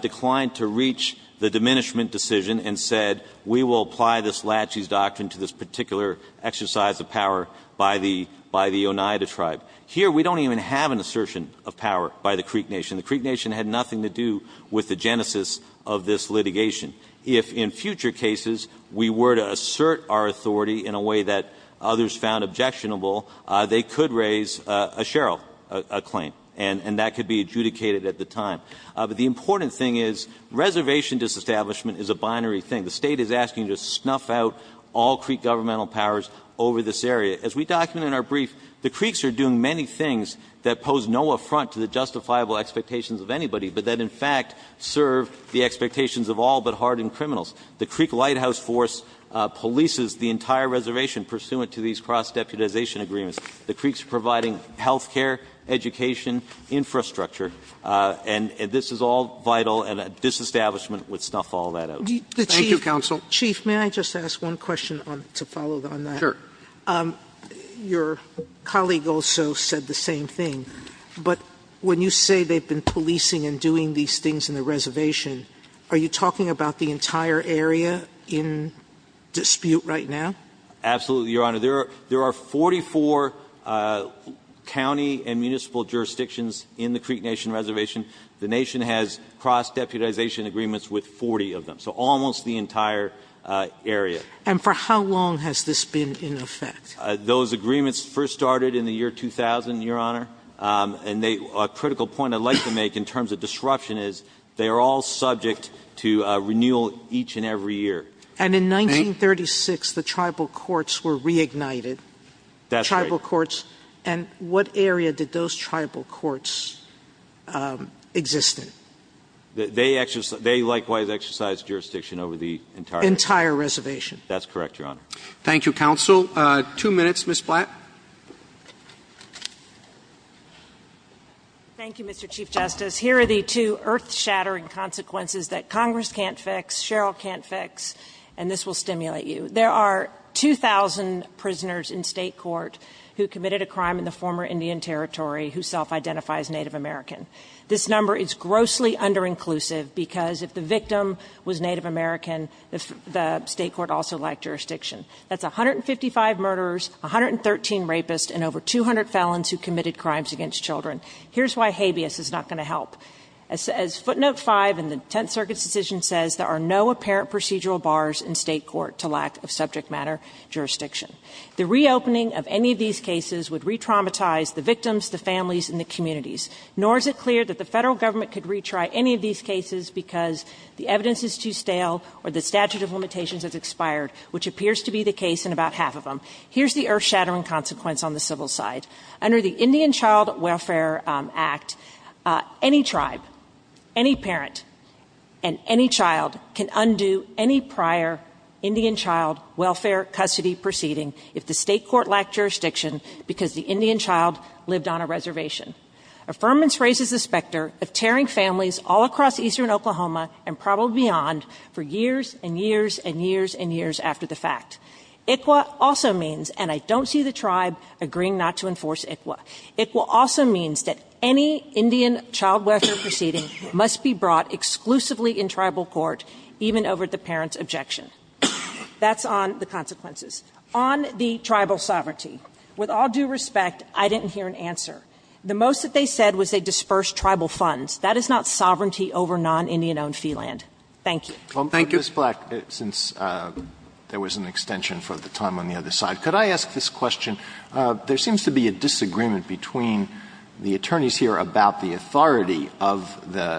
declined to reach the diminishment decision and said, we will apply this lachi doctrine to this particular exercise of power by the Oneida tribe. Here, we don't even have an assertion of power by the Creek Nation. The Creek Nation had nothing to do with the genesis of this litigation. If in future cases we were to assert our authority in a way that others found objectionable, they could raise a Sherrill claim, and that could be adjudicated at the time. But the important thing is reservation disestablishment is a binary thing. The State is asking to snuff out all Creek governmental powers over this area. As we document in our brief, the Creeks are doing many things that pose no affront to the justifiable expectations of anybody, but that in fact serve the expectations of all but hardened criminals. The Creek Lighthouse Force polices the entire reservation pursuant to these cross-deputization agreements. The Creeks are providing health care, education, infrastructure, and this is all vital, and a disestablishment would snuff all that out. Thank you, counsel. Chief, may I just ask one question to follow on that? Sure. Your colleague also said the same thing, but when you say they've been policing and doing these things in the reservation, are you talking about the entire area in dispute right now? Absolutely, Your Honor. There are 44 county and municipal jurisdictions in the Creek Nation reservation. The Nation has cross-deputization agreements with 40 of them, so almost the entire area. And for how long has this been in effect? Those agreements first started in the year 2000, Your Honor, and a critical point I'd like to make in terms of disruption is they are all subject to renewal each and every year. And in 1936, the tribal courts were reignited. That's right. Tribal courts. And what area did those tribal courts exist in? They likewise exercised jurisdiction over the entire reservation. Entire reservation. That's correct, Your Honor. Thank you, counsel. Two minutes, Ms. Blatt. Thank you, Mr. Chief Justice. Here are the two earth-shattering consequences that Congress can't fix, Sherrill can't fix, and this will stimulate you. There are 2,000 prisoners in state court who committed a crime in the former Indian Territory who self-identify as Native American. This number is grossly under-inclusive because if the victim was Native American, the state court also lacked jurisdiction. That's 155 murderers, 113 rapists, and over 200 felons who committed crimes Here's why habeas is not going to help. As footnote 5 in the Tenth Circuit's decision says, there are no apparent procedural bars in state court to lack of subject matter jurisdiction. The reopening of any of these cases would re-traumatize the victims, the families, and the communities. Nor is it clear that the Federal Government could retry any of these cases because the evidence is too stale or the statute of limitations has expired, which appears to be the case in about half of them. Here's the earth-shattering consequence on the civil side. Under the Indian Child Welfare Act, any tribe, any parent, and any child can undo any prior Indian Child Welfare custody proceeding if the state court lacked jurisdiction because the Indian child lived on a reservation. Affirmance raises the specter of tearing families all across eastern Oklahoma and probably beyond for years and years and years and years after the fact. ICWA also means, and I don't see the tribe agreeing not to enforce ICWA, ICWA also means that any Indian Child Welfare proceeding must be brought exclusively in tribal court, even over the parent's objection. That's on the consequences. On the tribal sovereignty, with all due respect, I didn't hear an answer. The most that they said was they dispersed tribal funds. That is not sovereignty over non-Indian-owned fee land. Thank you. Well, Ms. Black, since there was an extension for the time on the other side, could I ask this question? There seems to be a disagreement between the attorneys here about the authority of the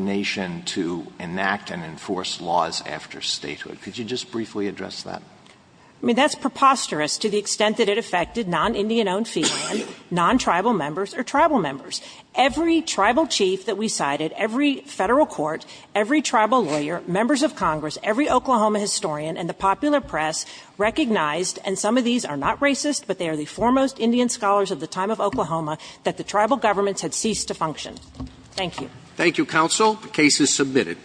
nation to enact and enforce laws after statehood. Could you just briefly address that? I mean, that's preposterous to the extent that it affected non-Indian-owned fee land, non-tribal members, or tribal members. Every tribal chief that we cited, every federal court, every tribal lawyer, members of Congress, every Oklahoma historian, and the popular press recognized and some of these are not racist, but they are the foremost Indian scholars of the time of Oklahoma that the tribal governments had ceased to function. Thank you. Thank you, counsel. The case is submitted.